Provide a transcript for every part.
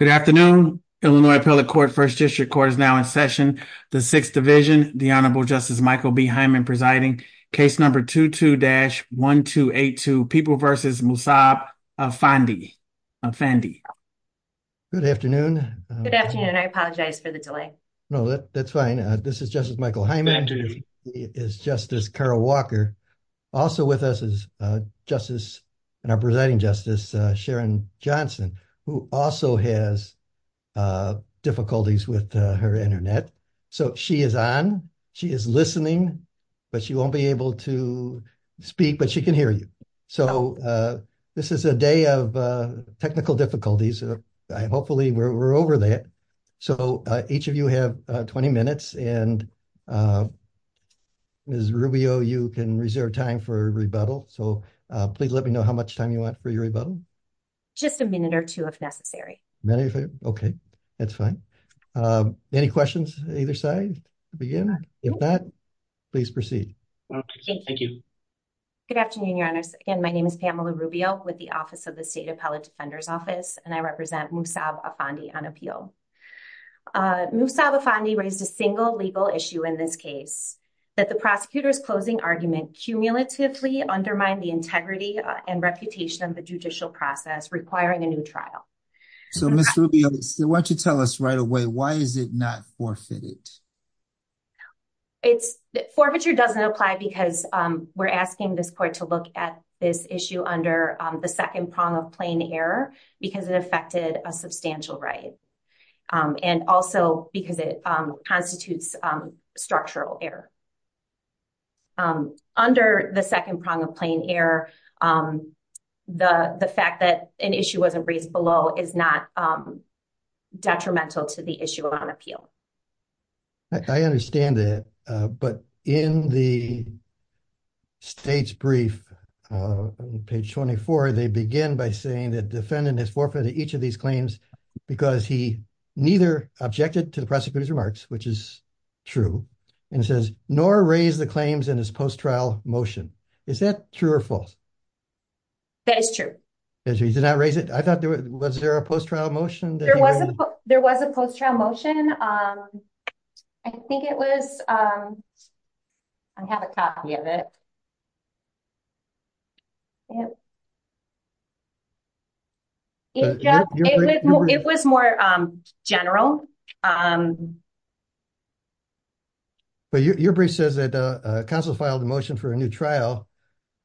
Good afternoon, Illinois appellate court, first district court is now in session. The 6th division, the Honorable Justice Michael B. Hyman presiding, case number 22-1282, People v. Musab Afandi. Good afternoon. Good afternoon. I apologize for the delay. No, that's fine. This is Justice Michael Hyman. Thank you. It is Justice Carol Walker, also with us as Justice and our presiding Justice Sharon Johnson, who also has difficulties with her internet. So she is on, she is listening, but she won't be able to speak, but she can hear you. So this is a day of technical difficulties. Hopefully we're over that. So, each of you have 20 minutes and as Rubio, you can reserve time for rebuttal. So please let me know how much time you want for your rebuttal. Just a minute or 2, if necessary. Okay. That's fine. Any questions either side to begin with that? Please proceed. Okay. Thank you. Good afternoon. Your honor and my name is Pamela Rubio with the office of the State Appellate Defender's Office and I represent Musab Afandi on appeal. Musab Afandi raised a single legal issue in this case, that the prosecutor's closing argument cumulatively undermine the integrity and reputation of the judicial process requiring a new trial. So, Ms. Rubio, why don't you tell us right away, why is it not forfeited? Forfeiture doesn't apply because we're asking this court to look at this issue under the second prong of plain error, because it affected a substantial right and also because it constitutes structural error. Under the second prong of plain error, the fact that an issue wasn't raised below is not detrimental to the issue on appeal. I understand that, but in the state's brief on page 24, they begin by saying that the defendant has forfeited each of these claims because he neither objected to the prosecutor's remarks, which is true, and says, nor raise the claims in his post trial motion. Is that true or false? That is true. He did not raise it? I thought, was there a post trial motion? There was a post trial motion. I think it was, I have a copy of it. It was more general. Your brief says that counsel filed a motion for a new trial,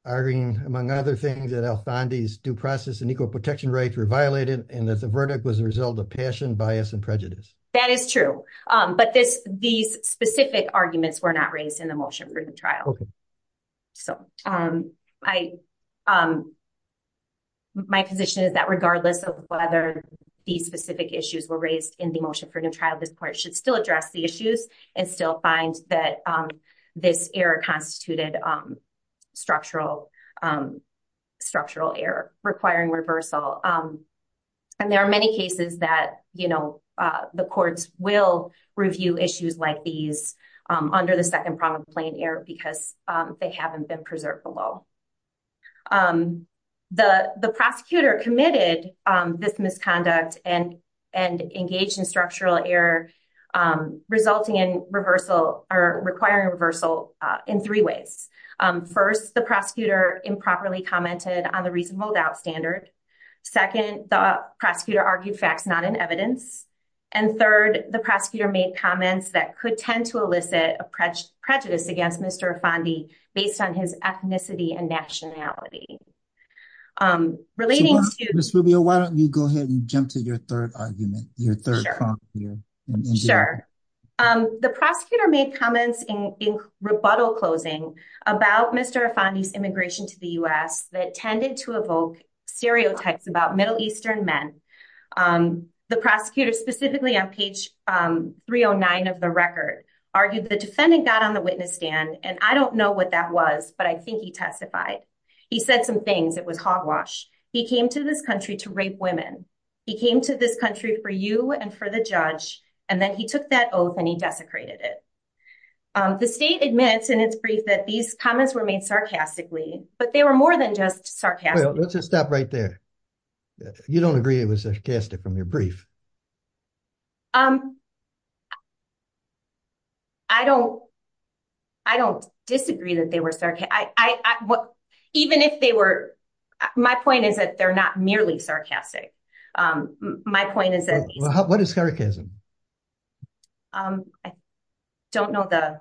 arguing, among other things, that Althandi's due process and equal protection rights were violated, and that the verdict was a result of passion, bias, and prejudice. That is true, but these specific arguments were not raised in the motion for the trial. My position is that regardless of whether these specific issues were raised in the motion for the trial, this court should still address the issues and still find that this error constituted structural error requiring reversal. There are many cases that the courts will review issues like these under the second problem of plain error because they haven't been preserved below. The prosecutor committed this misconduct and engaged in structural error, resulting in reversal or requiring reversal in three ways. First, the prosecutor improperly commented on the reasonable doubt standard. Second, the prosecutor argued facts not in evidence. And third, the prosecutor made comments that could tend to elicit a prejudice against Mr. Althandi based on his ethnicity and nationality. Ms. Rubio, why don't you go ahead and jump to your third argument, your third point here. Sure. The prosecutor made comments in rebuttal closing about Mr. Althandi's immigration to the U.S. that tended to evoke stereotypes about Middle Eastern men. The prosecutor, specifically on page 309 of the record, argued the defendant got on the witness stand, and I don't know what that was, but I think he testified. He said some things. It was hogwash. He came to this country to rape women. He came to this country for you and for the judge, and then he took that oath and he desecrated it. The state admits in its brief that these comments were made sarcastically, but they were more than just sarcastic. Let's just stop right there. You don't agree it was sarcastic from your brief. I don't disagree that they were sarcastic. Even if they were, my point is that they're not merely sarcastic. My point is that... What is sarcasm? I don't know the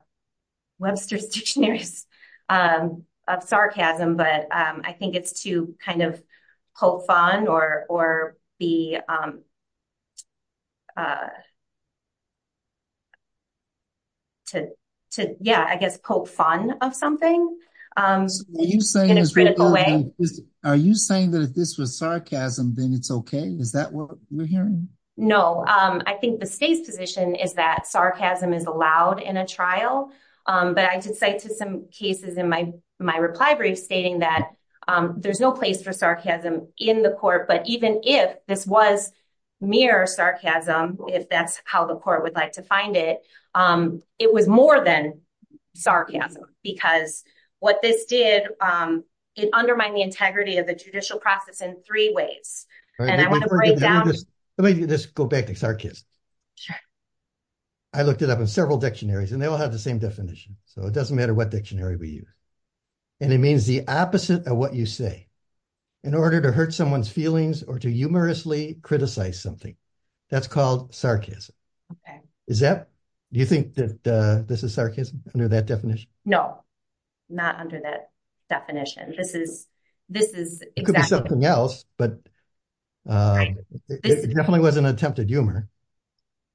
Webster's Dictionary of sarcasm, but I think it's to kind of poke fun or be... Yeah, I guess poke fun of something in a critical way. Are you saying that if this was sarcasm, then it's okay? Is that what you're hearing? No, I think the state's position is that sarcasm is allowed in a trial. But I can cite some cases in my reply brief stating that there's no place for sarcasm in the court. But even if this was mere sarcasm, if that's how the court would like to find it, it was more than sarcasm. Because what this did is undermine the integrity of the judicial process in three ways. Let me just go back to sarcasm. Sure. I looked it up in several dictionaries, and they all have the same definition. So it doesn't matter what dictionary we use. And it means the opposite of what you say in order to hurt someone's feelings or to humorously criticize something. That's called sarcasm. Okay. Do you think that this is sarcasm under that definition? No, not under that definition. It could be something else, but it definitely was an attempt at humor.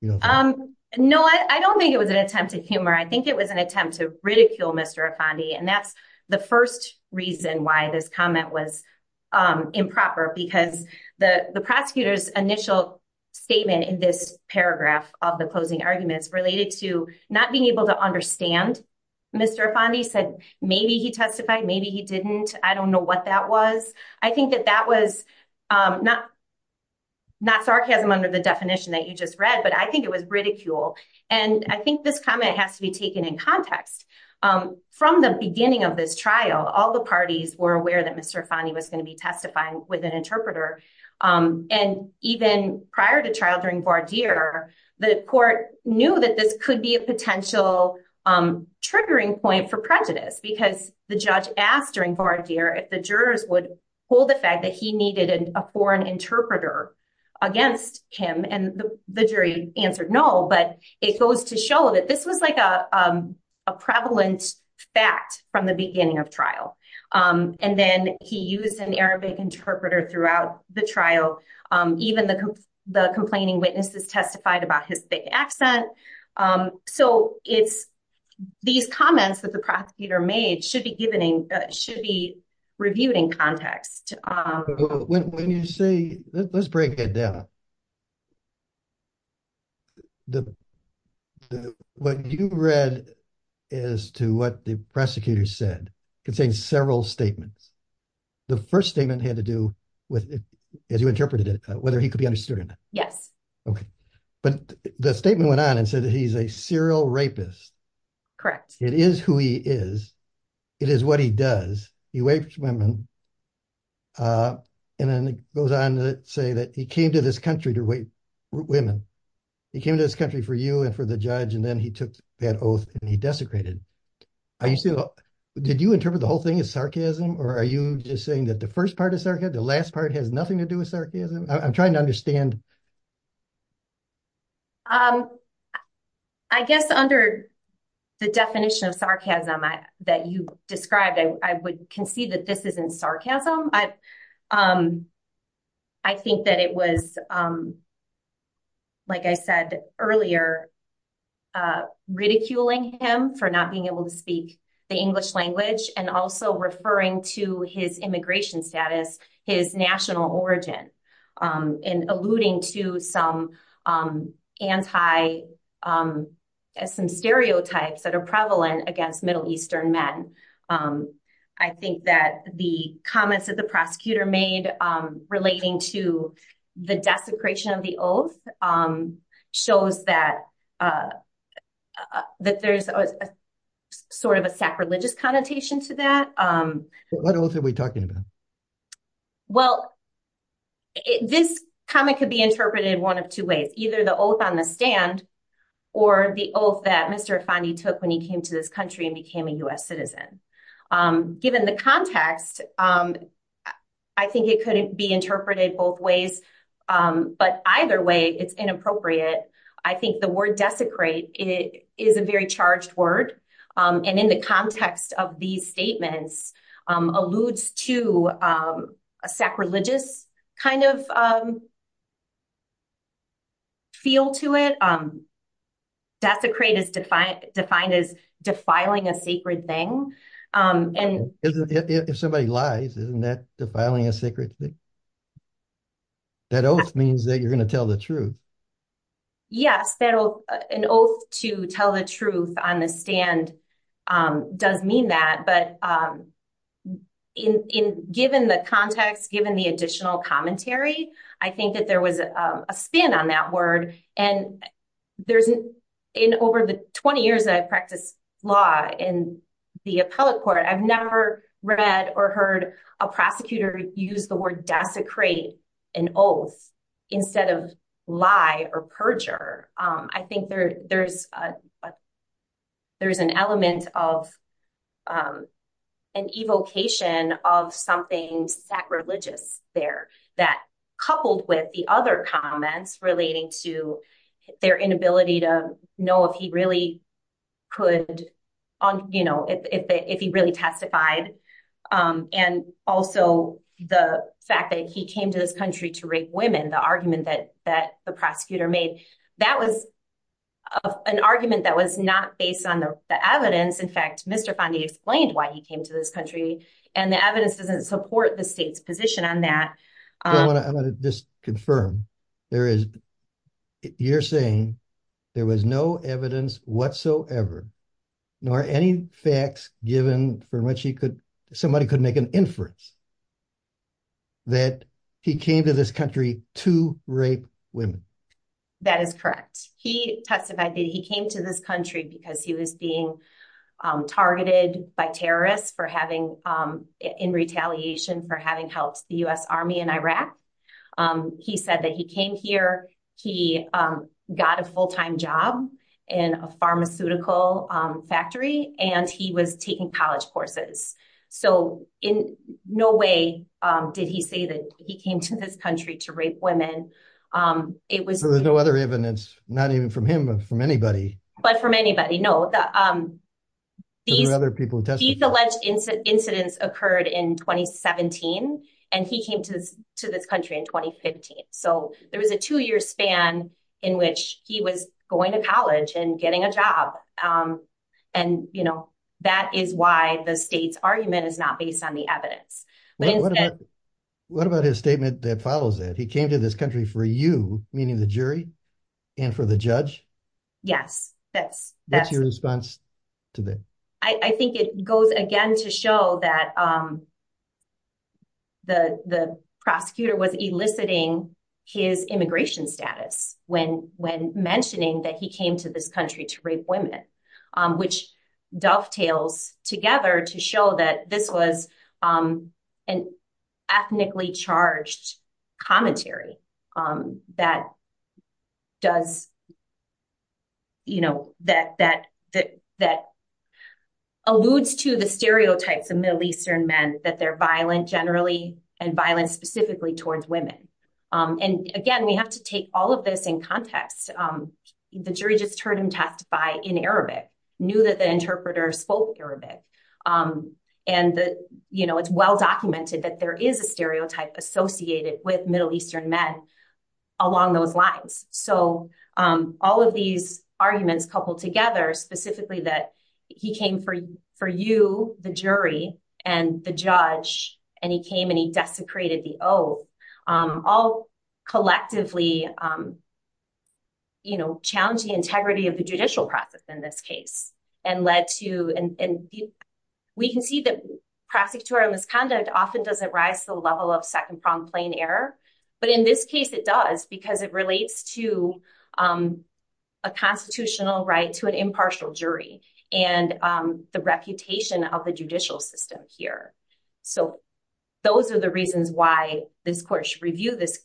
No, I don't think it was an attempt at humor. I think it was an attempt to ridicule Mr. Afandi. And that's the first reason why this comment was improper, because the prosecutor's initial statement in this paragraph of the closing argument related to not being able to understand Mr. Afandi said maybe he testified, maybe he didn't. I don't know what that was. I think that that was not sarcasm under the definition that you just read, but I think it was ridicule. And I think this comment has to be taken in context. From the beginning of this trial, all the parties were aware that Mr. Afandi was going to be testifying with an interpreter. And even prior to trial during Bardeer, the court knew that this could be a potential triggering point for prejudice, because the judge asked during Bardeer if the jurors would hold the fact that he needed a foreign interpreter against him. And the jury answered no, but it goes to show that this was like a prevalent fact from the beginning of trial. And then he used an Arabic interpreter throughout the trial. Even the complaining witnesses testified about his thick accent. So these comments that the prosecutor made should be reviewed in context. When you say, let's break it down. What you read as to what the prosecutor said contained several statements. The first statement had to do with, as you interpreted it, whether he could be understood. Yes. Okay. But the statement went on and said that he's a serial rapist. Correct. It is who he is. It is what he does. He raped women. And then it goes on to say that he came to this country to rape women. He came to this country for you and for the judge, and then he took that oath and he desecrated. Did you interpret the whole thing as sarcasm, or are you just saying that the first part is sarcasm, the last part has nothing to do with sarcasm? I'm trying to understand. I guess under the definition of sarcasm that you described, I would concede that this isn't sarcasm. I think that it was, like I said earlier, ridiculing him for not being able to speak the English language and also referring to his immigration status, his national origin. And alluding to some stereotypes that are prevalent against Middle Eastern men. I think that the comments that the prosecutor made relating to the desecration of the oath shows that there's sort of a sacrilegious connotation to that. What oath are we talking about? Well, this comment could be interpreted one of two ways. Either the oath on the stand or the oath that Mr. Afandi took when he came to this country and became a U.S. citizen. Given the context, I think it could be interpreted both ways. But either way, it's inappropriate. I think the word desecrate is a very charged word. And in the context of these statements, alludes to a sacrilegious kind of feel to it. Desecrate is defined as defiling a sacred thing. If somebody lies, isn't that defiling a sacred thing? That oath means that you're going to tell the truth. Yes, an oath to tell the truth on the stand doesn't mean that. But given the context, given the additional commentary, I think that there was a spin on that word. And in over the 20 years that I've practiced law in the appellate court, I've never read or heard a prosecutor use the word desecrate, an oath. Instead of lie or perjure, I think there's an element of an evocation of something sacrilegious there. That coupled with the other comments relating to their inability to know if he really could, you know, if he really testified. And also the fact that he came to this country to rape women, the argument that the prosecutor made. That was an argument that was not based on the evidence. In fact, Mr. Fondi explained why he came to this country and the evidence doesn't support the state's position on that. I want to just confirm, you're saying there was no evidence whatsoever nor any facts given for which somebody could make an inference that he came to this country to rape women. That is correct. He testified that he came to this country because he was being targeted by terrorists in retaliation for having helped the U.S. Army in Iraq. He said that he came here, he got a full-time job in a pharmaceutical factory, and he was taking college courses. So in no way did he say that he came to this country to rape women. There was no other evidence, not even from him, but from anybody. But from anybody, no. These alleged incidents occurred in 2017 and he came to this country in 2015. So there was a two-year span in which he was going to college and getting a job. And that is why the state's argument is not based on the evidence. What about his statement that follows that? He came to this country for you, meaning the jury, and for the judge? Yes. What's your response to that? I think it goes again to show that the prosecutor was eliciting his immigration status when mentioning that he came to this country to rape women, which dovetails together to show that this was an ethnically charged commentary that alludes to the stereotypes of Middle Eastern men, that they're violent generally and violent specifically towards women. And again, we have to take all of this in context. The jury just heard him testify in Arabic, knew that the interpreter spoke Arabic, and it's well documented that there is a stereotype associated with Middle Eastern men along those lines. So all of these arguments coupled together, specifically that he came for you, the jury, and the judge, and he came and he desecrated the oath, all collectively challenge the integrity of the judicial process in this case. And we can see that prosecutorial misconduct often doesn't rise to the level of second-pronged plain error, but in this case it does because it relates to a constitutional right to an impartial jury and the reputation of the judicial system here. So those are the reasons why this court should review this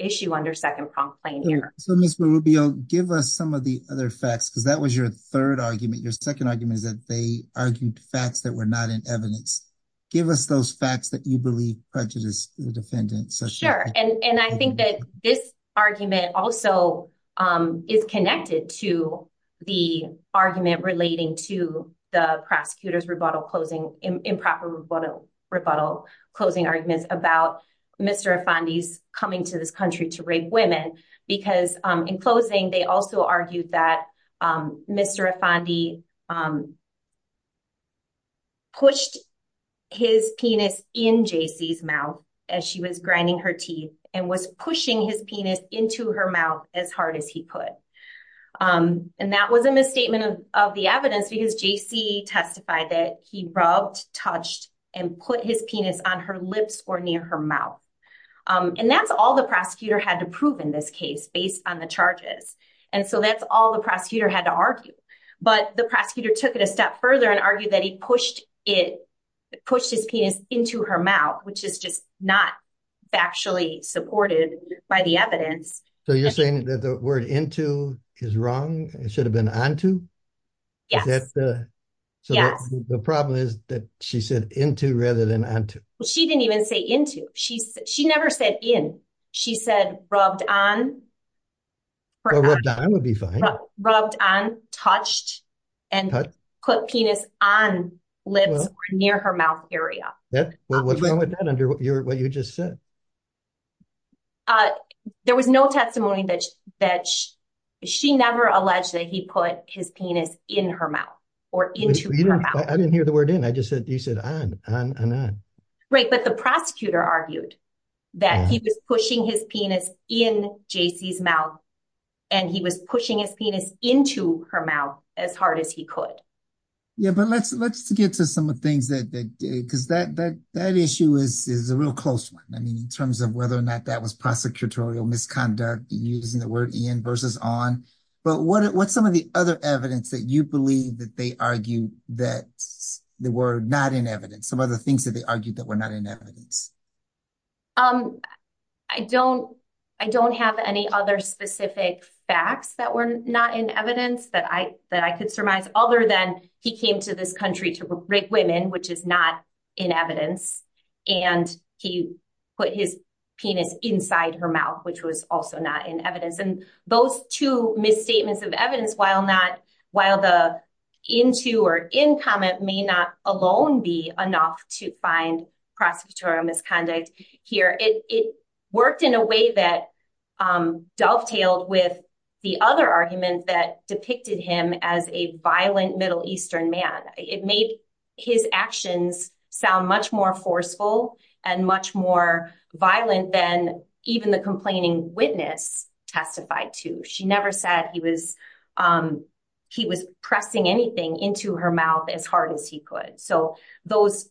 issue under second-pronged plain error. So, Ms. Rubio, give us some of the other facts, because that was your third argument. Your second argument is that they argued facts that were not in evidence. Give us those facts that you believe prejudice was offended. Sure. And I think that this argument also is connected to the argument relating to the prosecutor's rebuttal, closing improper rebuttal, closing arguments about Mr. Afandi's coming to this country to rape women, because in closing they also argued that Mr. Afandi pushed his penis in J.C.'s mouth as she was grinding her teeth and was pushing his penis into her mouth as hard as he could. And that was a misstatement of the evidence because J.C. testified that he rubbed, touched, and put his penis on her lips or near her mouth. And that's all the prosecutor had to prove in this case based on the charges. And so that's all the prosecutor had to argue. But the prosecutor took it a step further and argued that he pushed his penis into her mouth, which is just not factually supported by the evidence. So you're saying that the word into is wrong? It should have been onto? Yeah. So the problem is that she said into rather than onto. She didn't even say into. She never said in. She said rubbed on. Rubbed on would be fine. Rubbed on, touched, and put penis on lips or near her mouth area. What's wrong with that under what you just said? There was no testimony that she never alleged that he put his penis in her mouth or into her mouth. I didn't hear the word in. I just said you said on. Right. But the prosecutor argued that he was pushing his penis in J.C.'s mouth and he was pushing his penis into her mouth as hard as he could. Yeah, but let's get to some of the things that because that issue is a real close one. I mean, in terms of whether or not that was prosecutorial misconduct using the word in versus on. But what's some of the other evidence that you believe that they argue that the word not in evidence? Some other things that they argued that were not in evidence. I don't I don't have any other specific facts that were not in evidence that I could surmise other than he came to this country to rape women, which is not in evidence. And he put his penis inside her mouth, which was also not in evidence. And those two misstatements of evidence, while not while the into or in comment may not alone be enough to find prosecutorial misconduct here. It worked in a way that dovetails with the other argument that depicted him as a violent Middle Eastern man. It made his actions sound much more forceful and much more violent than even the complaining witness testified to. She never said he was he was pressing anything into her mouth as hard as he could. So those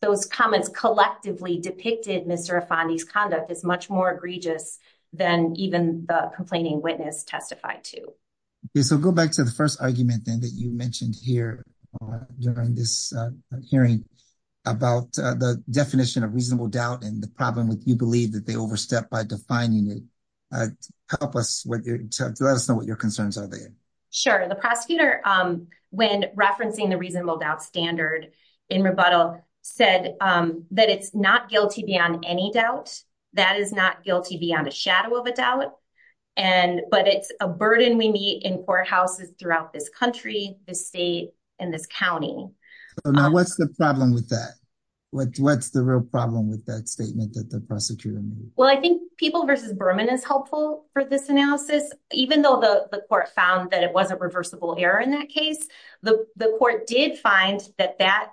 those comments collectively depicted Mr. Fani's conduct is much more egregious than even the complaining witness testified to. If we go back to the 1st argument thing that you mentioned here during this hearing about the definition of reasonable doubt and the problem with you believe that they overstep by defining it. Help us what your concerns are there. Sure. The prosecutor when referencing the reasonable doubt standard in rebuttal said that it's not guilty beyond any doubt. That is not guilty beyond the shadow of a doubt. And but it's a burden we meet in courthouses throughout this country, the state and the county. Now, what's the problem with that? What's what's the real problem with that statement? Well, I think people versus Berman is helpful for this analysis, even though the court found that it wasn't reversible error. In that case, the court did find that that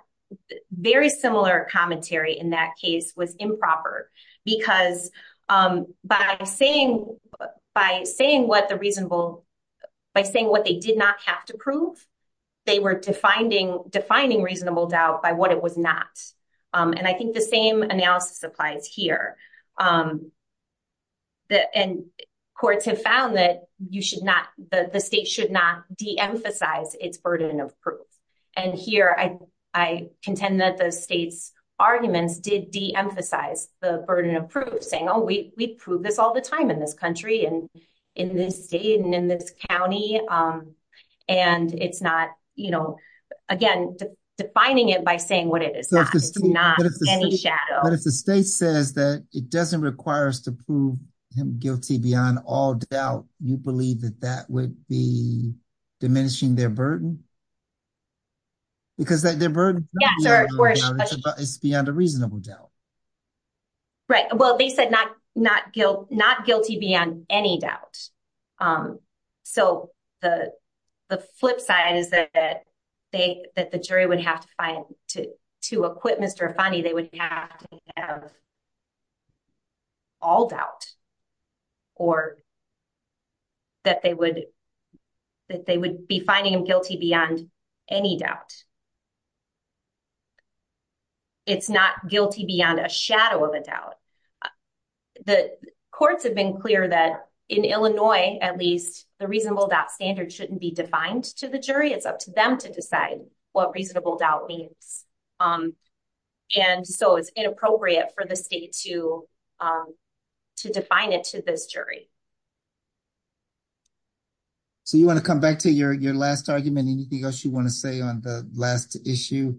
very similar commentary in that case was improper because by saying by saying what the reasonable by saying what they did not have to prove, they were defining defining reasonable doubt by what it would not. And I think the same analysis applies here. And courts have found that you should not the state should not be emphasized its burden of proof. And here, I, I contend that the state's arguments did be emphasized the burden of proof saying, oh, we prove this all the time in this country and in this state and in this county. And it's not, you know, again, defining it by saying what it is, not any shadow. The state says that it doesn't require us to prove guilty beyond all doubt. You believe that that would be diminishing their burden. Because I did. It's beyond a reasonable doubt. Right. Well, they said not not guilt, not guilty beyond any doubt. So, the, the flip side is that they that the jury would have to find to to equipment or funny. They would have. All doubt or. That they would that they would be finding guilty beyond any doubt. It's not guilty beyond a shadow of a doubt. The courts have been clear that in Illinois, at least the reasonable that standard shouldn't be defined to the jury. It's up to them to decide what reasonable doubt. And so it's inappropriate for the state to. To define it to this jury, so you want to come back to your, your last argument, anything else you want to say on the last issue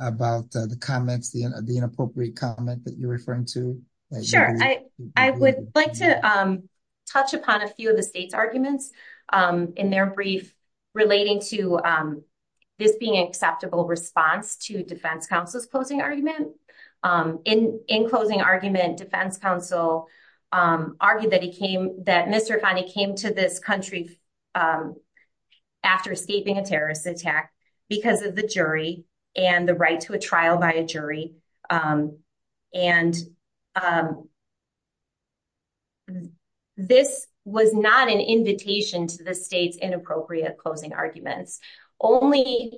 about the comments, the inappropriate comment that you're referring to. Sure, I would like to touch upon a few of the state's arguments in their brief. Relating to this being acceptable response to defense counsel's closing argument in, in closing argument defense counsel argued that he came that Mr. funny came to this country after escaping a terrorist attack because of the jury and the right to a trial by a jury and. And this was not an invitation to the state's inappropriate closing argument only.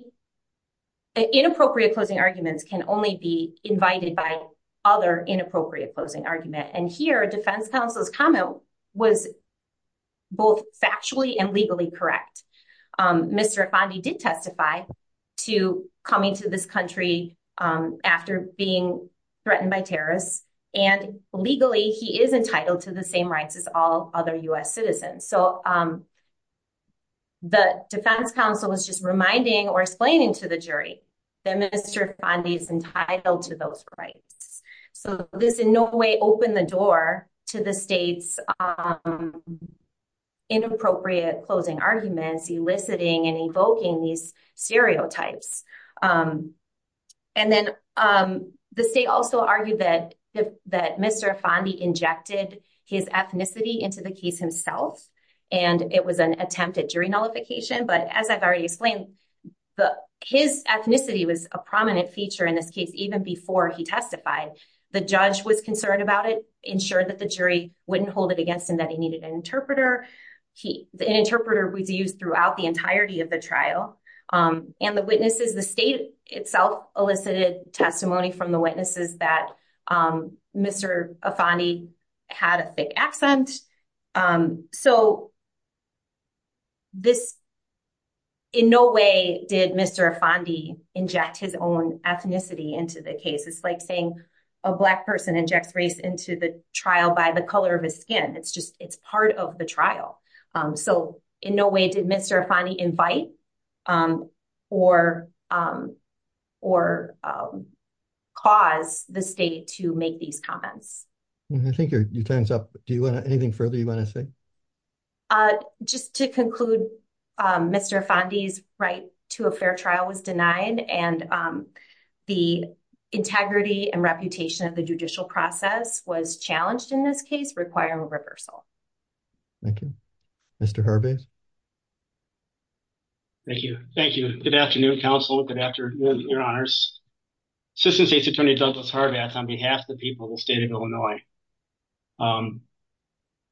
An inappropriate closing arguments can only be invited by other inappropriate closing argument and here defense counsel's comment was. Both actually and legally correct Mr. did testify. To coming to this country after being threatened by terrorists and legally, he is entitled to the same rights as all other US citizens. So. The defense counsel was just reminding or explaining to the jury. Mr. is entitled to those. So, there's no way open the door to the states. Inappropriate closing arguments, eliciting and invoking these stereotypes. And then the state also argued that that Mr. injected his ethnicity into the case himself. And it was an attempt at during nullification, but as I've already explained. But his ethnicity was a prominent feature in this case, even before he testified, the judge was concerned about it ensure that the jury wouldn't hold it against him that he needed an interpreter. The interpreter was used throughout the entirety of the trial. And the witnesses, the state itself, elicited testimony from the witnesses that Mr. Had a thick accent. This. In no way did Mr. inject his own ethnicity into the case. It's like saying a black person inject race into the trial by the color of his skin. It's just, it's part of the trial. So, in no way did Mr. invite or, or cause the state to make these comments. I think your time's up. Do you want anything further? You want to say, just to conclude, Mr. right to a fair trial was denied and the integrity and reputation of the judicial process was challenged in this case, requiring a reversal. Thank you. Mr. Thank you. Thank you. Good afternoon. Counsel. Good afternoon. On behalf of the people of the state of Illinois.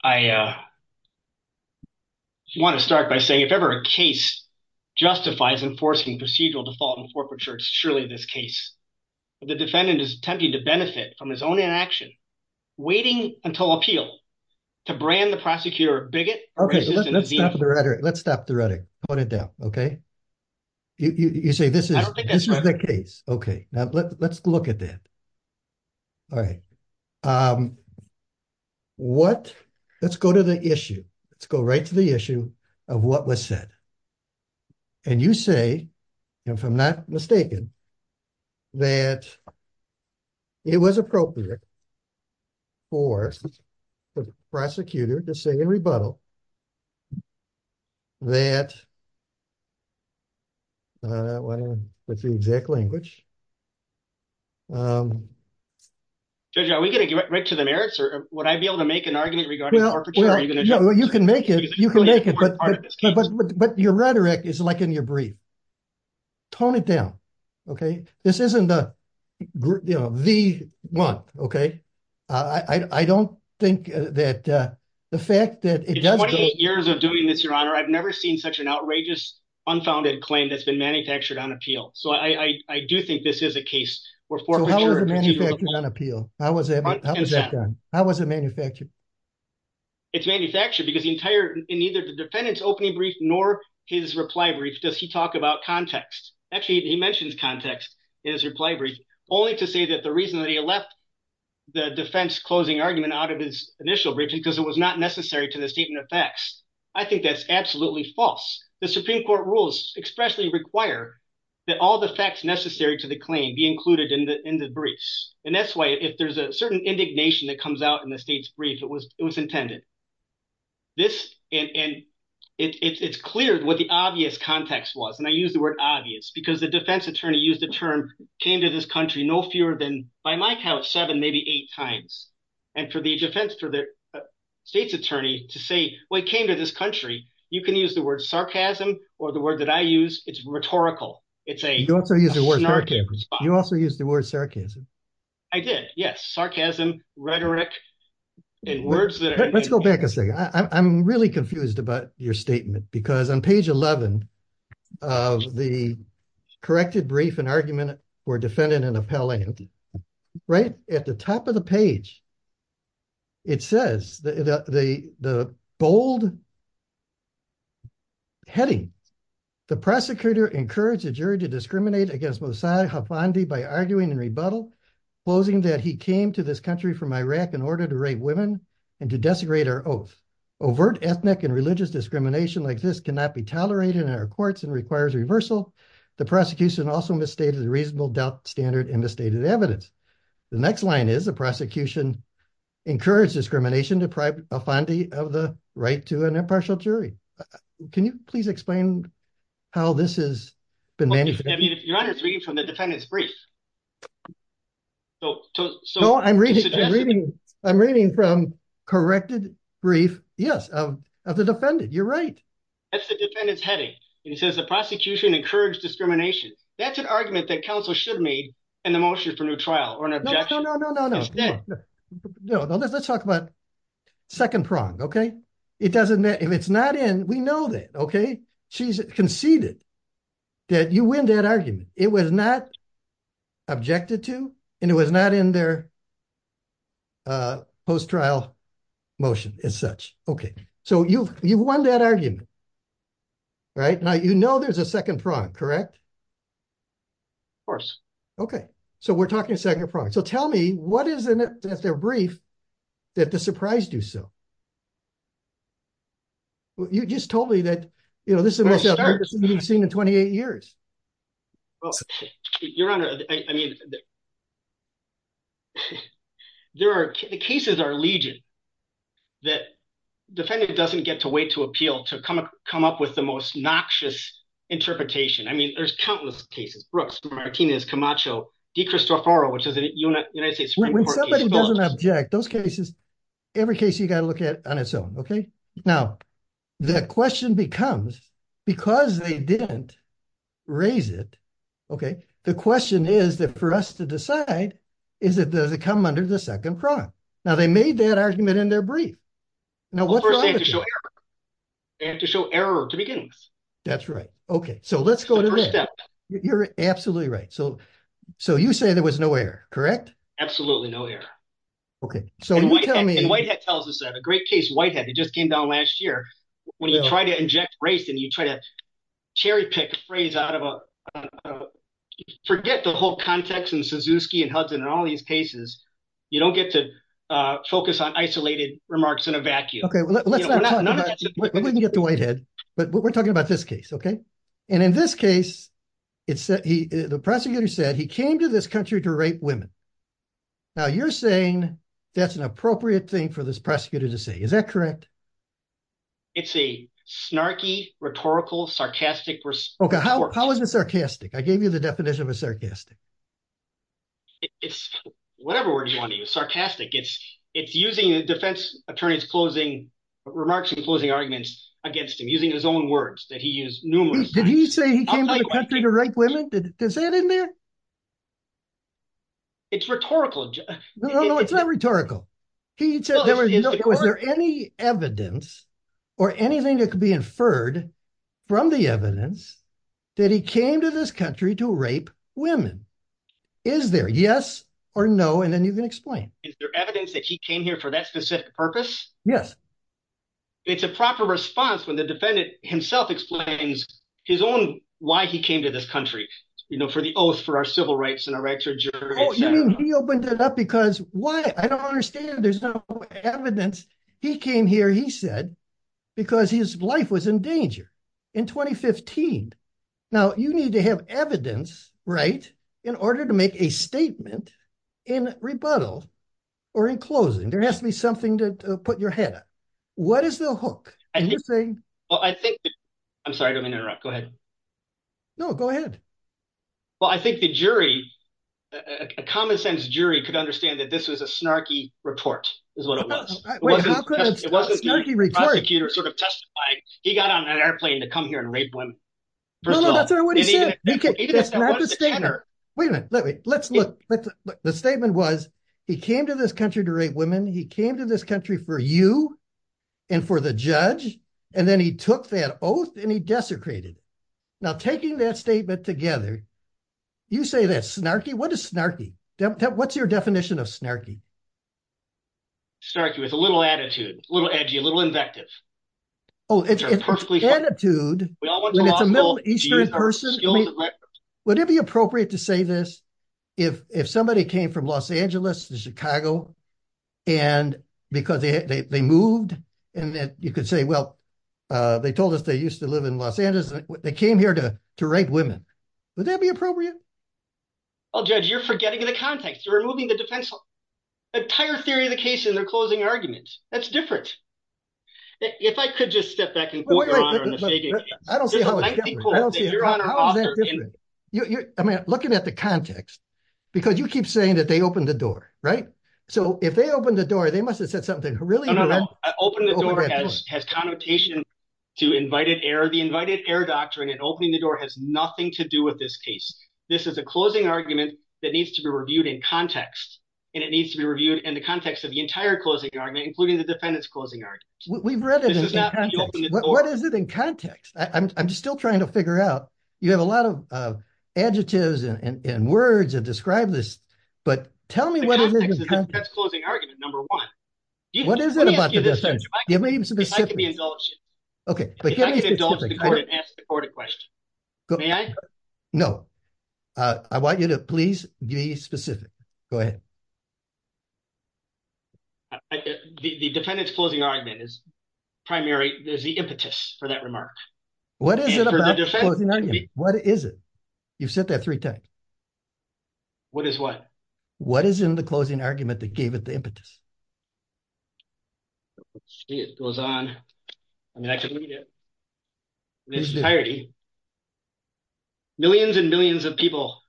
I want to start by saying, if ever a case justifies enforcing procedural default and forfeiture, it's surely this case. The defendant is attempting to benefit from his own inaction, waiting until appeal to brand the prosecutor bigot. Okay, let's stop the rhetoric. Let's stop the rhetoric. Okay. You say this is the case. Okay, let's look at that. All right. What, let's go to the issue. Let's go right to the issue of what was said. And you say, if I'm not mistaken, that it was appropriate for the prosecutor to say in rebuttal. That. The exact language. Are we going to get right to the narrative? Would I be able to make an argument? You can make it, you can make it, but your rhetoric is like in your brief. Tone it down. Okay, this isn't the, you know, the one. Okay. I don't think that the fact that years of doing this, your honor, I've never seen such an outrageous, unfounded claim that's been manufactured on appeal. So, I do think this is a case. How was it? How was it manufactured? It's manufactured because the entire in either the defendant's opening brief, nor his reply brief, does he talk about context? Actually, he mentioned context in his reply brief, only to say that the reason that he left the defense closing argument out of his initial brief, because it was not necessary to the statement of facts. I think that's absolutely false. The Supreme Court rules expressly require that all the facts necessary to the claim be included in the, in the brief. And that's why if there's a certain indignation that comes out in the state's brief, it was, it was intended. This, and it's clear what the obvious context was, and I use the word obvious because the defense attorney used the term came to this country, no fewer than by my house seven, maybe eight times. And for the defense, for the state's attorney to say, well, he came to this country, you can use the word sarcasm, or the word that I use, it's rhetorical. You also used the word sarcasm. I did, yes. Sarcasm, rhetoric. Let's go back a second. I'm really confused about your statement because on page 11, the corrected brief and argument were defended in appellate. Right at the top of the page. It says the, the, the bold heading. The prosecutor encouraged the jury to discriminate against Mossad Hafandi by arguing and rebuttal, closing that he came to this country from Iraq in order to rape women and to desecrate our oath. Overt ethnic and religious discrimination like this cannot be tolerated in our courts and requires reversal. The prosecution also misstated the reasonable doubt standard in the stated evidence. The next line is the prosecution encouraged discrimination of Hafandi of the right to an impartial jury. Can you please explain how this is? You're reading from the defendant's brief. So, I'm reading, I'm reading from corrected brief. Yes, the defendant. You're right. That's the defendant's heading. It says the prosecution encouraged discrimination. That's an argument that counsel should make in the motion for new trial or an objection. No, no, no, no, no. Let's talk about second prong. Okay. It doesn't. If it's not in, we know that. Okay. She's conceded that you win that argument. It was not objected to. And it was not in their post trial motion as such. Okay. So you, you won that argument. Right now, you know, there's a second front. Correct. Of course. Okay. So we're talking a second front. So tell me what is it that's a brief that the surprise do so. You just told me that, you know, this is what we've seen in 28 years. You're right. I mean, there are cases are legion that defendant doesn't get to wait to appeal to come, come up with the most noxious interpretation. I mean, there's countless cases. Okay. Now, the question becomes, because they didn't raise it. Okay. The question is that for us to decide, is it does it come under the second front? Now, they made that argument in their brief. They have to show error to begin with. That's right. Okay. So let's go to that. You're absolutely right. So, so you say there was no error. Correct? Absolutely. No. Okay. So, white hat tells us that a great case white hat just came down last year when you try to inject race and you try to cherry pick phrase out of forget the whole context and Suzuki and husband and all these cases. You don't get to focus on isolated remarks in a vacuum. Okay. But we're talking about this case. Okay. And in this case, it's the prosecutor said he came to this country to rate women. Now, you're saying that's an appropriate thing for this prosecutor to say, is that correct? It's a snarky, rhetorical, sarcastic. Okay. How is it sarcastic? I gave you the definition of a sarcastic. It's sarcastic. It's, it's using defense attorney's closing remarks and closing arguments against him using his own words that he is numerous. Did he say he came to rape women? Does that in there? It's rhetorical. No, no, no, it's not rhetorical. He said, is there any evidence or anything that could be inferred from the evidence that he came to this country to rape women? Is there yes or no? And then you can explain. Is there evidence that he came here for that specific purpose? Yes. It's a proper response when the defendant himself explains his own, why he came to this country, you know, for the oath for our civil rights and our rights. Because why? I don't understand. There's no evidence. He came here. He said, because his life was in danger in 2015. Now, you need to have evidence, right, in order to make a statement in rebuttal or in closing. There has to be something to put your head up. What is the hook? I'm sorry to interrupt. Go ahead. No, go ahead. Well, I think the jury, a common sense jury could understand that this was a snarky report is what it was. He got on an airplane to come here and rape one. Wait a minute. Let's look. The statement was, he came to this country to rape women. He came to this country for you and for the judge. And then he took that oath and he desecrated. Now, taking that statement together, you say that's snarky. What is snarky? What's your definition of snarky? Snarky is a little attitude, a little edgy, a little invective. Oh, it's an attitude. Would it be appropriate to say this, if somebody came from Los Angeles to Chicago, and because they moved, and then you could say, well, they told us they used to live in Los Angeles. They came here to rape women. Would that be appropriate? Well, Judge, you're forgetting the context. You're removing the defense law. Entire theory of the case is a closing argument. That's different. If I could just step back and quote your Honor on the statement. I'm looking at the context, because you keep saying that they opened the door, right? So, if they opened the door, they must have said something. Open the door has connotation to invited error. The invited error doctrine in opening the door has nothing to do with this case. This is a closing argument that needs to be reviewed in context. And it needs to be reviewed in the context of the entire closing argument, including the defendant's closing argument. We've read it in context. What is it in context? I'm still trying to figure out. You have a lot of adjectives and words that describe this, but tell me what is it in context. The defendant's closing argument, number one. What is it about the defense? If I could be indulgent. If I could be indulgent and ask the court a question. May I? No. I want you to please be specific. Go ahead. The defendant's closing argument is the impetus for that remark. What is it about the closing argument? What is it? You've said that three times. What is what? What is in the closing argument that gave it the impetus? Let's see. It goes on. I mean, I can read it. Millions and millions of people,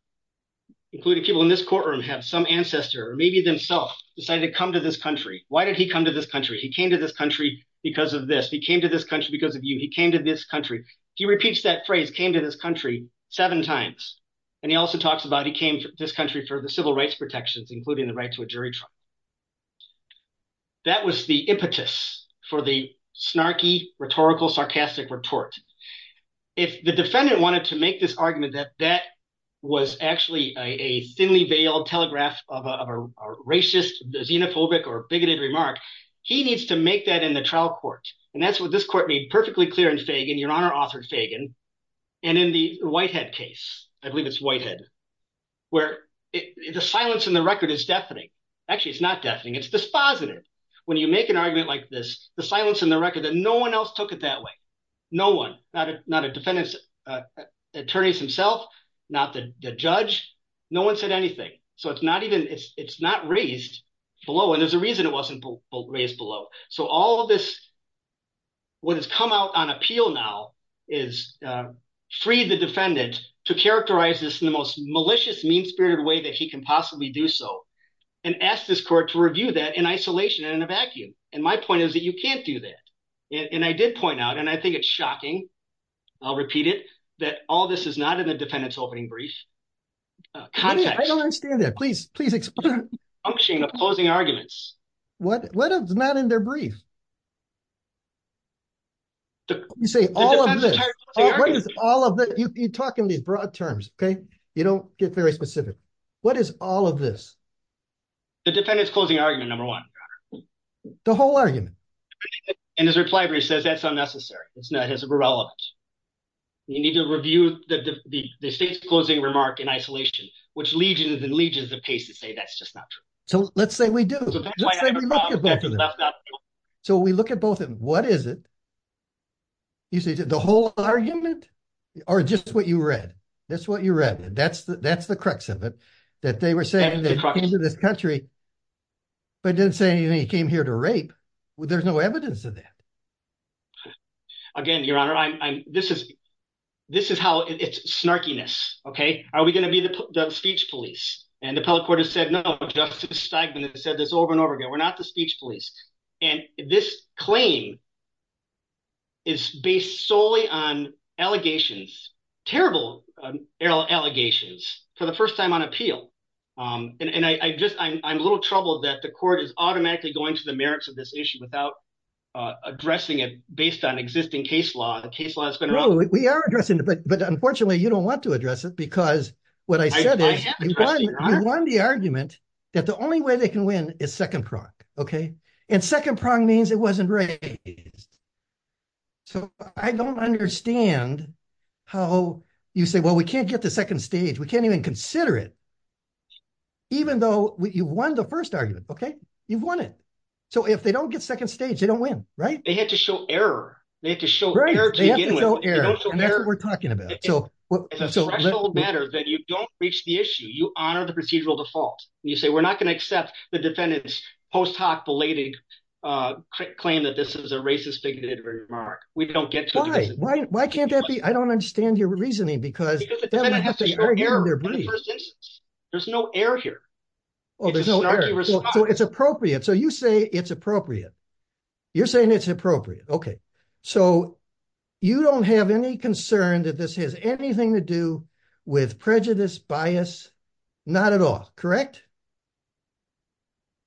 including people in this courtroom, have some ancestor, or maybe themselves, decided to come to this country. Why did he come to this country? He came to this country because of this. He came to this country because of you. He came to this country. He repeats that phrase, came to this country, seven times. And he also talks about he came to this country for the civil rights protections, including the rights of a jury trial. That was the impetus for the snarky, rhetorical, sarcastic retort. If the defendant wanted to make this argument that that was actually a thinly veiled telegraph of a racist, xenophobic, or bigoted remark, he needs to make that in the trial court. And that's what this court made perfectly clear in Sagan, your Honor, Arthur Sagan, and in the Whitehead case. I believe it's Whitehead. Where the silence in the record is deafening. Actually, it's not deafening. It's dispositive. When you make an argument like this, the silence in the record, that no one else took it that way. No one. Not a defendant's attorney himself, not the judge. No one said anything. So it's not raised below, and there's a reason it wasn't raised below. So all of this, what has come out on appeal now is free the defendant to characterize this in the most malicious, mean-spirited way that he can possibly do so. And ask this court to review that in isolation and in a vacuum. And my point is that you can't do that. And I did point out, and I think it's shocking, I'll repeat it, that all this is not in a defendant's opening brief. I don't understand that. Please, please explain. The function of closing arguments. What is not in their brief? You say all of this. You talk in these broad terms, okay? You don't get very specific. What is all of this? The defendant's closing argument, number one. The whole argument. And his reply brief says that's unnecessary. It has no relevance. You need to review the state's closing remark in isolation, which legions and legions of cases say that's just not true. So let's say we do. Let's say we look at both of them. So we look at both of them. What is it? You say the whole argument, or just what you read? That's what you read. That's the crux of it. That they were saying they came to this country, but didn't say they came here to rape. There's no evidence of that. Again, Your Honor, this is how it's snarkiness, okay? Are we going to be the speech police? And the appellate court has said, no, Justice Steinman has said this over and over again. We're not the speech police. And this claim is based solely on allegations, terrible allegations, for the first time on appeal. And I'm a little troubled that the court is automatically going to the merits of this issue without addressing it based on existing case law. No, we are addressing it, but unfortunately you don't want to address it, because what I said is you won the argument that the only way they can win is second trial, okay? And second prong means it wasn't raised. So I don't understand how you say, well, we can't get to second stage. We can't even consider it. Even though you won the first argument, okay? You've won it. So if they don't get second stage, they don't win, right? They have to show error. They have to show error to begin with. Right, they have to show error. That's what we're talking about. It's a matter that you don't reach the issue. You honor the procedural default. You say we're not going to accept the defendant's post hoc belated claim that this is a racist thing to hit a remark. Why? Why can't that be? I don't understand your reasoning. Because there's no error here. Oh, there's no error. So it's appropriate. So you say it's appropriate. You're saying it's appropriate. Okay. So you don't have any concern that this has anything to do with prejudice, bias, not at all, correct?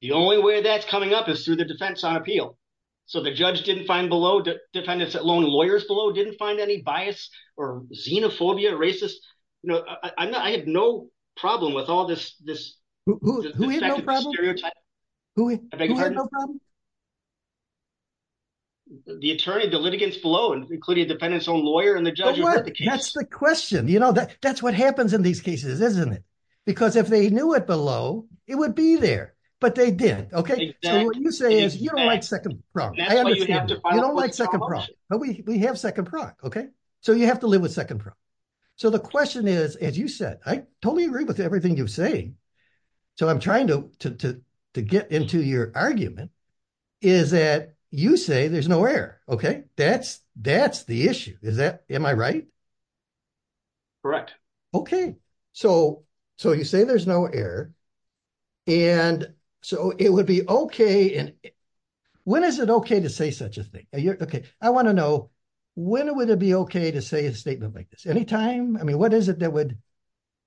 The only way that's coming up is through the defense on appeal. So the judge didn't find below, defendants alone, lawyers below didn't find any bias or xenophobia, racist. I have no problem with all this. Who has no problem? Who has no problem? The attorney, the litigants below, including the defendant's own lawyer and the judge. That's the question. You know, that's what happens in these cases, isn't it? Because if they knew it below, it would be there, but they didn't. Okay. So what you're saying is you don't like second prong. You don't like second prong. We have second prong. Okay. So you have to live with second prong. So the question is, as you said, I totally agree with everything you're saying. So I'm trying to get into your argument is that you say there's no error. Okay. That's the issue. Am I right? Correct. Okay. So you say there's no error. And so it would be okay. When is it okay to say such a thing? Okay. I want to know, when would it be okay to say a statement like this? Any time? I mean, what is it that would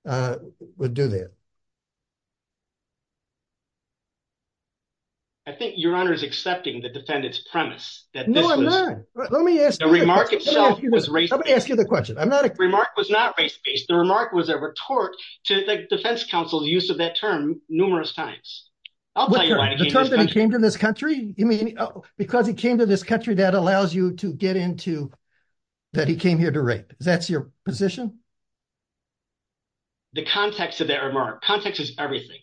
do that? I think your Honor is accepting the defendant's premise. No, I'm not. Let me ask you the question. The remark was not race-based. The remark was a report to the defense counsel's use of that term numerous times. The fact that he came to this country? Because he came to this country, that allows you to get into that he came here to write. Is that your position? The context of that remark. Context is everything.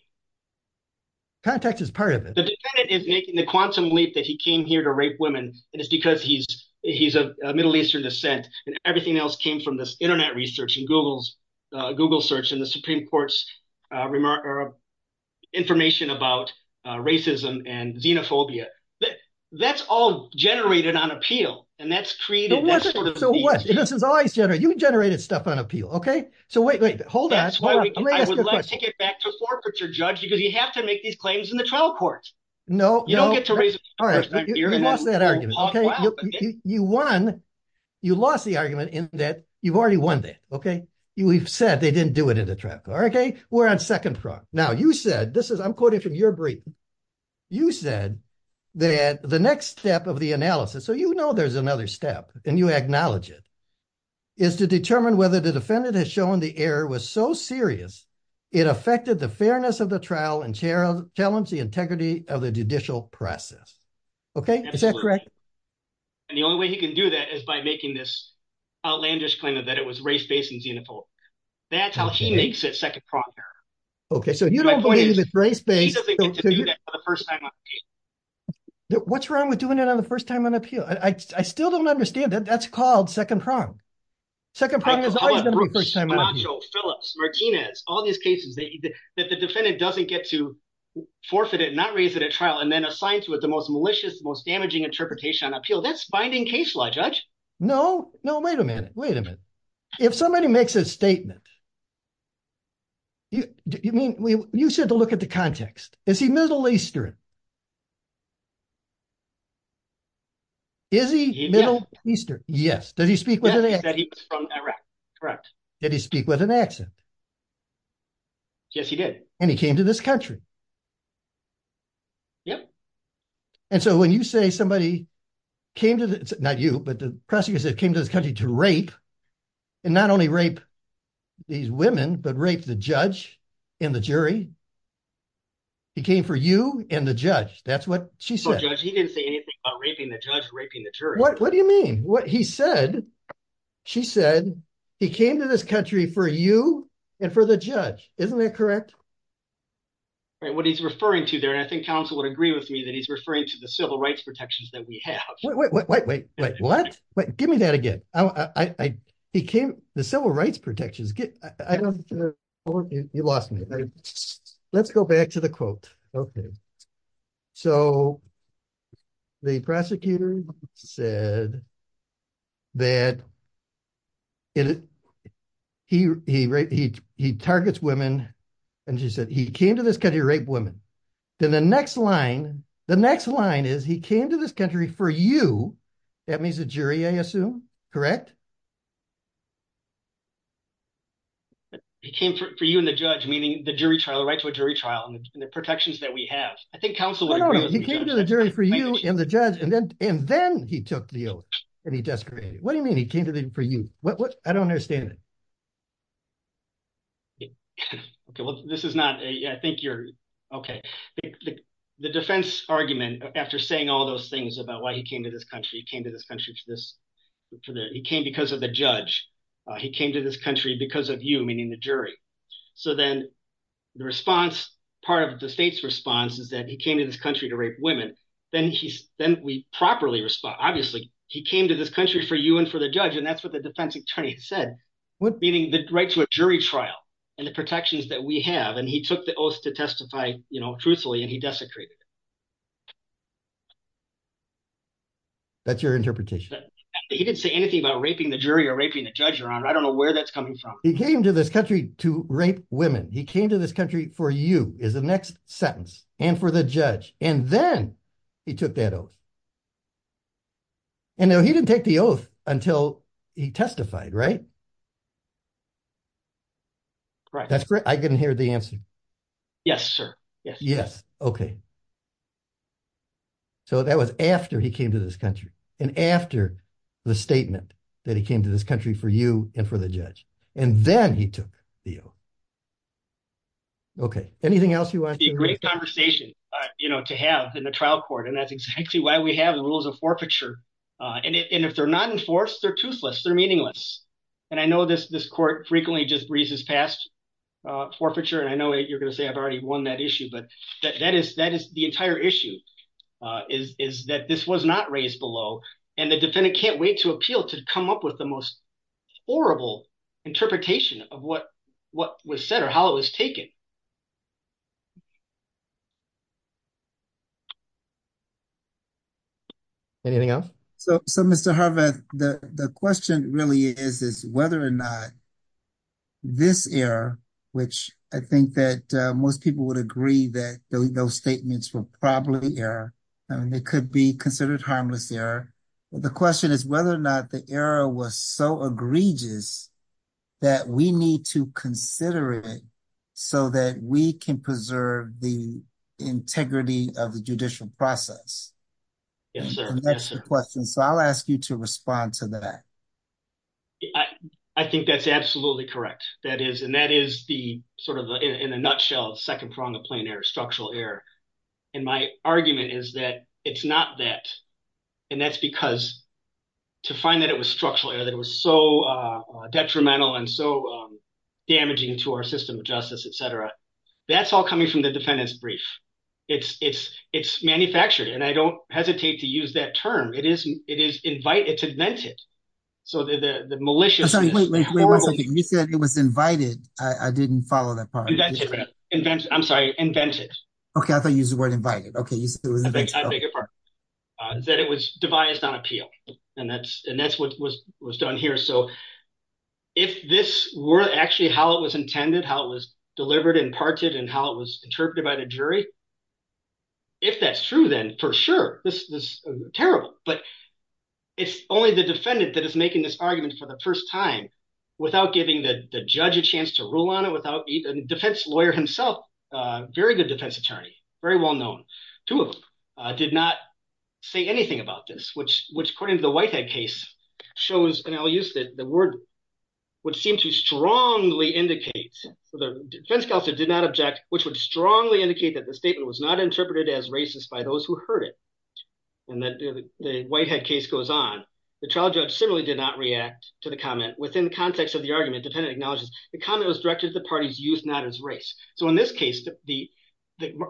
Context is part of it. The quantum belief that he came here to rape women is because he's a Middle Eastern descent. Everything else came from this internet research and Google search and the Supreme Court's information about racism and xenophobia. That's all generated on appeal. And that's created that sort of… You generated stuff on appeal. Okay? So, wait, wait. Hold on. I would like to get back to forfeiture, Judge, because you have to make these claims in the trial court. You don't get to raise… You lost that argument. You won. You lost the argument in that you've already won that. We've said they didn't do it in the trial court. We're on the second front. Now, you said, I'm quoting from your brief. You said that the next step of the analysis, so you know there's another step and you acknowledge it, is to determine whether the defendant has shown the error was so serious, it affected the fairness of the trial and challenged the integrity of the judicial process. Okay? Is that correct? And the only way you can do that is by making this outlandish claim that it was race-based and cuneiform. That's how she makes it second pronger. Okay, so you don't believe it's race-based. She doesn't get to do that for the first time on appeal. What's wrong with doing it on the first time on appeal? I still don't understand it. That's called second prong. Second prong is always going to be first time on appeal. So, Phillips, Martinez, all these cases, that the defendant doesn't get to forfeit it, not raise it at trial, and then assigns to it the most malicious, most damaging interpretation on appeal. That's binding case law, Judge. No, no, wait a minute. Wait a minute. If somebody makes a statement, you said to look at the context. Is he Middle Eastern? Is he Middle Eastern? Yes. Did he speak with an accent? Yes, he was from Iraq, correct. Did he speak with an accent? Yes, he did. And he came to this country? Yes. And so when you say somebody came to the, not you, but the prosecutor said, came to this country to rape, and not only rape these women, but rape the judge and the jury, he came for you, and the judge, that's what she said. He didn't say anything about raping the judge or raping the jury. What do you mean? He said, she said, he came to this country for you, and for the judge. Isn't that correct? What he's referring to there, and I think counsel would agree with me, that he's referring to the civil rights protections that we have. Wait, wait, wait, wait, what? Give me that again. He came, the civil rights protections. You lost me. Let's go back to the quote. So, the prosecutor said that he, he targets women, and she said, he came to this country to rape women. Then the next line, the next line is, he came to this country for you, that means the jury, I assume, correct? He came for you and the judge, meaning the jury trial, the right to a jury trial, and the protections that we have. I think counsel would agree. No, no, he came to the jury for you and the judge, and then he took the oath, and he desecrated. What do you mean he came to the jury for you? I don't understand it. Okay, well, this is not, I think you're, okay. The defense argument, after saying all those things about why he came to this country, he came to this country to this, he came because of the judge. He came to this country because of you, meaning the jury. So then the response, part of the state's response is that he came to this country to rape women. Then we properly respond. Obviously, he came to this country for you and for the judge, and that's what the defense attorney said, meaning the right to a jury trial, and the protections that we have, and he took the oath to testify truthfully, and he desecrated. That's your interpretation. He didn't say anything about raping the jury or raping the judge or I don't know where that's coming from. He came to this country to rape women. He came to this country for you is the next sentence and for the judge, and then he took that oath. And now he didn't take the oath until he testified, right? That's great. I didn't hear the answer. Yes, sir. Yes, okay. So that was after he came to this country and after the statement that he came to this country for you and for the judge, and then he took the oath. Okay, anything else you want to say? It would be a great conversation to have in the trial court, and that's exactly why we have rules of forfeiture, and if they're not enforced, they're toothless, they're meaningless, and I know this court frequently just reads this past forfeiture, and I know you're going to say I've already won that issue, but that is the entire issue is that this was not raised below, and the judge has come up with the most horrible interpretation of what was said or how it was taken. Anything else? So Mr. Harvey, the question really is whether or not this error, which I think that most people would agree that those statements were probably error, and they could be considered harmless error. The question is whether or not this error was so egregious that we need to consider it so that we can preserve the integrity of the judicial process. And that's the question, so I'll ask you to respond to that. I think that's absolutely correct, and that is sort of in a nutshell the second prong of plain error, structural error, and my argument is that it's not that, and that's because to find that it was structural error, that it was so detrimental and so damaging to our system of justice, et cetera, that's all coming from the defendant's brief. It's manufactured, and I don't hesitate to use that term. It is invented. So the maliciousness- Wait a second, you said it was invited. I didn't follow that part. Invented. I'm sorry, invented. Okay, I thought you used the word invited. I beg your pardon. That it was devised on appeal, and that's what was done here. So if this were actually how it was intended, how it was delivered and parted and how it was interpreted by the jury, if that's true then, for sure, this is terrible, but it's only the defendant that is making this argument for the first time without giving the judge a chance to rule on it, without even, the defense lawyer himself, very good defense attorney, very well known, two of them, did not say anything about this, which according to the Whitehead case, shows, and I'll use the word, which seems to strongly indicate, the defense counsel did not object, which would strongly indicate that the statement was not interpreted as racist by those who heard it. And the Whitehead case goes on. The trial judge similarly did not react to the comment. Within the context of the argument, the defendant acknowledges the comment was directed to the parties used not as race. So in this case, the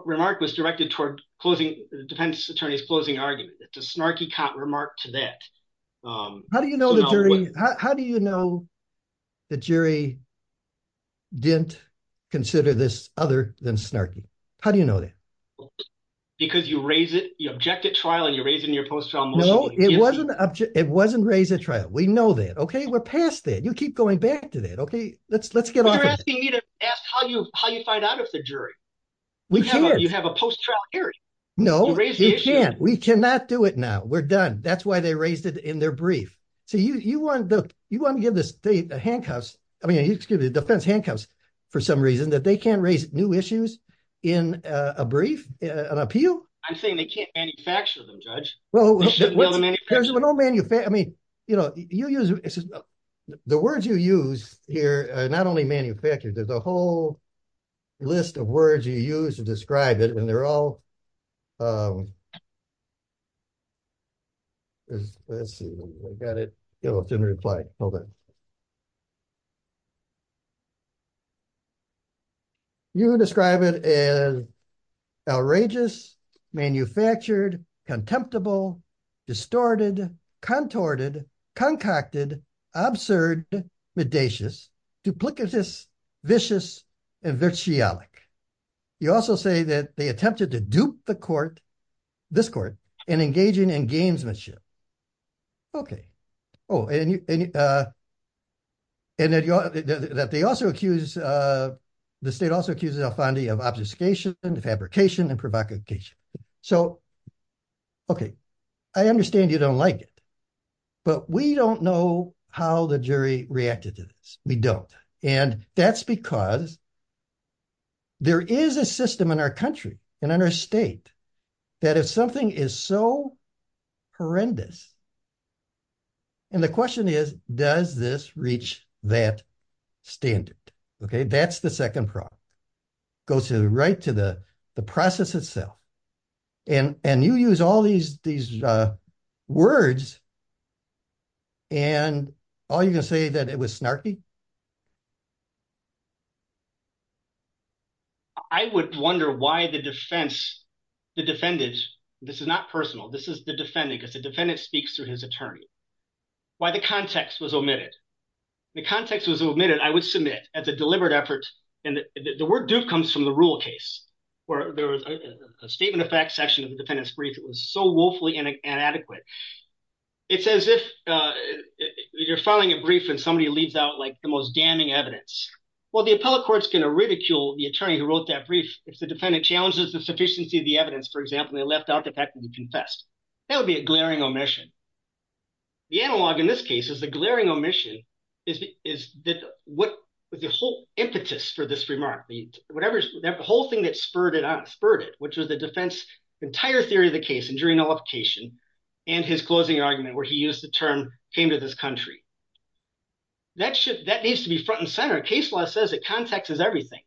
remark was directed toward the defense attorney's closing argument. It's a snarky count remark to that. How do you know the jury, how do you know the jury didn't consider this other than snarky? How do you know that? Because you raised it, you objected trial and you raised it in your post-trial motion. No, it wasn't raised at trial. We know that, okay? We're past that. You keep going back to that. Okay, let's get on with it. You're asking me to ask how you find out if the jury. We can't. You have a post-trial hearing. No, we can't. We cannot do it now. We're done. That's why they raised it in their brief. You want to give the defense handcuffs for some reason that they can't raise new issues in a brief, an appeal? I'm saying they can't manufacture them, Judge. I mean, the words you use here, not only manufactured, there's a whole list of words you use to describe it and they're all let's see. I got it. It didn't reply. Hold on. You would describe it as outrageous, contemptible, contorted, concocted, absurd, seditious, duplicitous, and vitriolic. You also say that they attempted to dupe the court, this court, in engaging in gamesmanship. Oh, and that they also accused, the state also accused Al-Fandi of obfuscation and fabrication and provocation. So, okay. I understand you don't like it, but we don't know how the jury reacted to this. We don't. And that's because there is a system in our country and in our state that if something is so horrendous and the question is, does this reach that standard? Okay, that's the second problem. It goes right to the process itself. And you use all these words and all you can say that it was snarky? I would wonder why the defense, the defendant, this is not personal, this is the defendant, because the defendant speaks to his attorney. Why the context was omitted. The context was omitted, I would submit, as a deliberate effort, and the word dupe comes from the rule case, where there was a statement of fact session, the defendant's brief was so woefully inadequate. It's as if you're filing a brief and somebody leaves out like the most damning evidence. Well, the appellate court's going to ridicule the attorney who wrote that brief if the defendant challenges the sufficiency of the evidence, for example, they left out the fact that he confessed. That would be a glaring omission. The analog in this case is the glaring omission is what the whole impetus for this remark, whatever, the whole thing that spurred it on, spurred it, which was the defense, the entire theory of the case and jury nullification, and his closing argument where he used the term came to this country. That's just that needs to be front and center. Case law says that context is everything.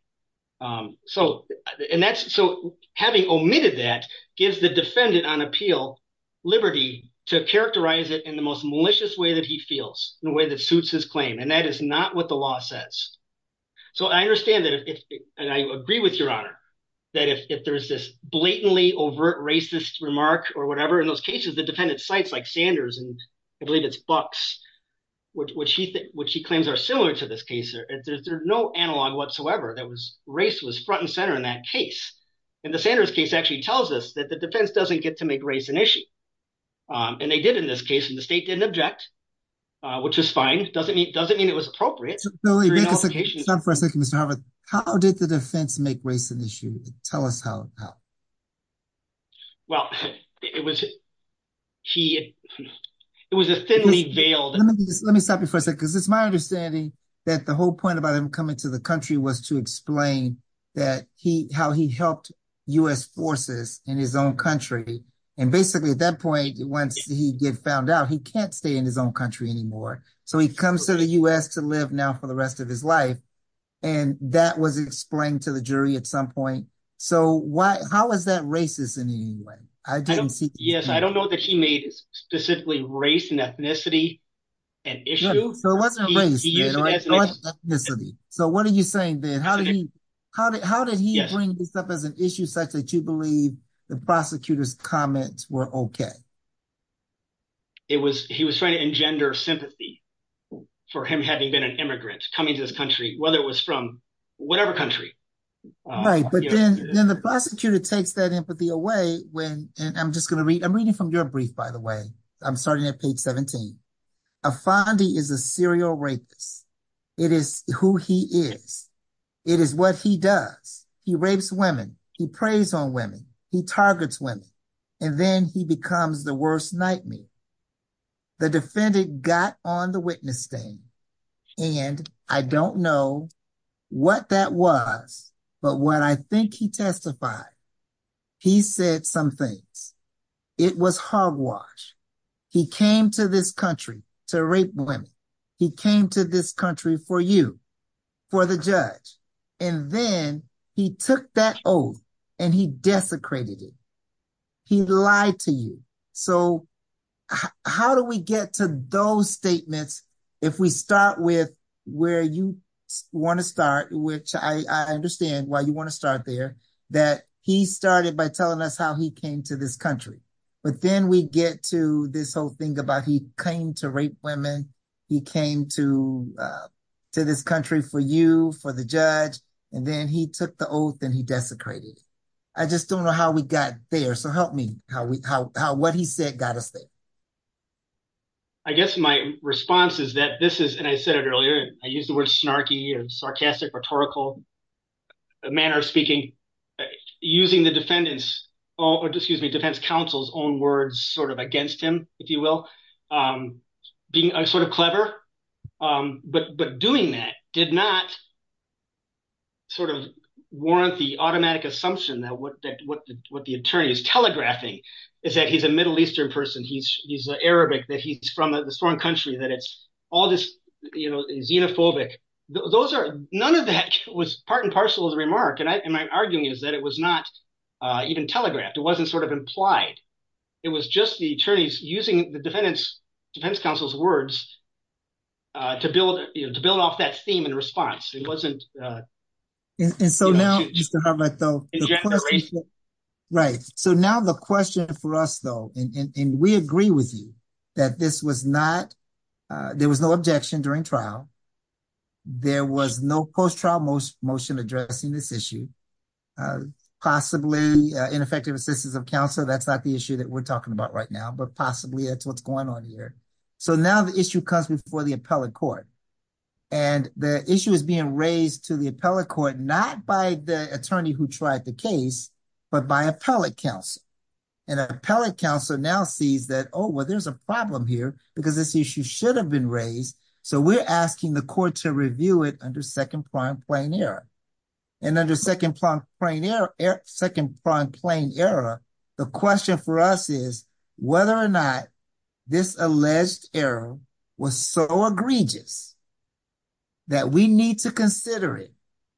So and that's so having omitted that is the defendant on appeal liberty to characterize it in the most malicious way that he feels in a way that suits his claim. And that is not what the law says. So I understand that. And I agree with your honor that if there is this blatantly overt racist remark or whatever, in those cases, the defendant cites like Sanders and I believe it's Bucks, which she what she claims are similar to this case. There's no analog whatsoever. That was race was front and center in that case. And the Sanders case actually tells us that the defense doesn't get to make race an issue. And they did in this case. And the state didn't object, which is fine. It doesn't mean it doesn't mean it was appropriate. How did the defense make race an issue? Tell us how. Well, it was key. It was a city jail. Let me stop you for a second, because it's my understanding that the whole point about him coming to the country was to explain that he how he helped U.S. forces in his own country. And basically, at that point, once he gets found out, he can't stay in his own country anymore. So he comes to the U.S. to live now for the rest of his life. And that was explained to the jury at some point. So why? How is that racist in England? I don't know. Yes, I don't know that he made specifically race and ethnicity an issue. So what do you think? Then how did he how did how did he bring this up as an issue such that you believe the prosecutor's comments were OK? It was he was trying to engender sympathy for him having been an immigrant coming to this country, whether it was from whatever country. But then the prosecutor takes that empathy away when he's trying to make that And I'm just going to read a reading from your brief, by the way. I'm starting at page 17. A fondie is a serial rapist. It is who he is. It is what he does. He rapes women. He prays on women. He targets women. And then he becomes the worst nightmare. The defendant got on the witnessing and I don't know what that was. But what I think he testified, he said something. It was hogwash. He came to this country to rape women. He came to this country for you, for the judge. And then he took that oath and he desecrated it. He lied to you. So how do we get to those statements if we start with where you want to start, which I understand why you want to start there, that he started by telling us how he came to this country. But then we get to this whole thing about he came to rape women. He came to this country for you, for the judge. And then he took the oath and he desecrated it. I just don't know how we got there. So help me. What he said got us there. I guess my response is that this is, and I said it earlier, I used the word snarky and sarcastic rhetorical. I used the word snarky and sarcastic rhetorical manner of speaking. Using the defendant's, excuse me, defense counsel's own words sort of against him, if you will. Being sort of clever. But doing that did not sort of warrant the automatic assumption that what the attorney is telegraphing is that he's a Middle Eastern person, he's Arabic, that he's from a foreign country, that all this, you know, is xenophobic. Those are, none of that was part and parcel of the remark. And my argument is that it was not even telegraphed. It wasn't sort of implied. It was just the attorneys using the defendant's defense counsel's words to build off that theme and response. It wasn't. And so now, right. So now the question for us, though, and we agree with you that this was not a post-trial motion, there was no objection during trial. There was no post-trial motion addressing this issue. Possibly ineffective assistance of counsel. That's not the issue that we're talking about right now, but possibly that's what's going on here. So now the issue comes before the appellate court. And the issue is being raised to the appellate court, not by the attorney who tried the case, but by appellate counsel. And the appellate counsel now sees that, oh, well, there's a problem here because this issue should have been raised. So we're asking the court to review it under second front plain error. And under second front plain error, second front plain error, the question for us is whether or not this alleged error was so egregious that we need to consider it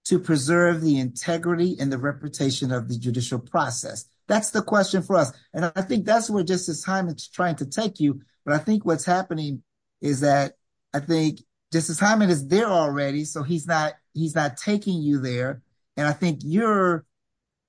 to preserve the integrity and the reputation of the judicial process. That's the question for us. And I think that's where just this time it's trying to take you. But I think what's happening is that I think just the time it is there already. So he's not he's not taking you there. And I think you're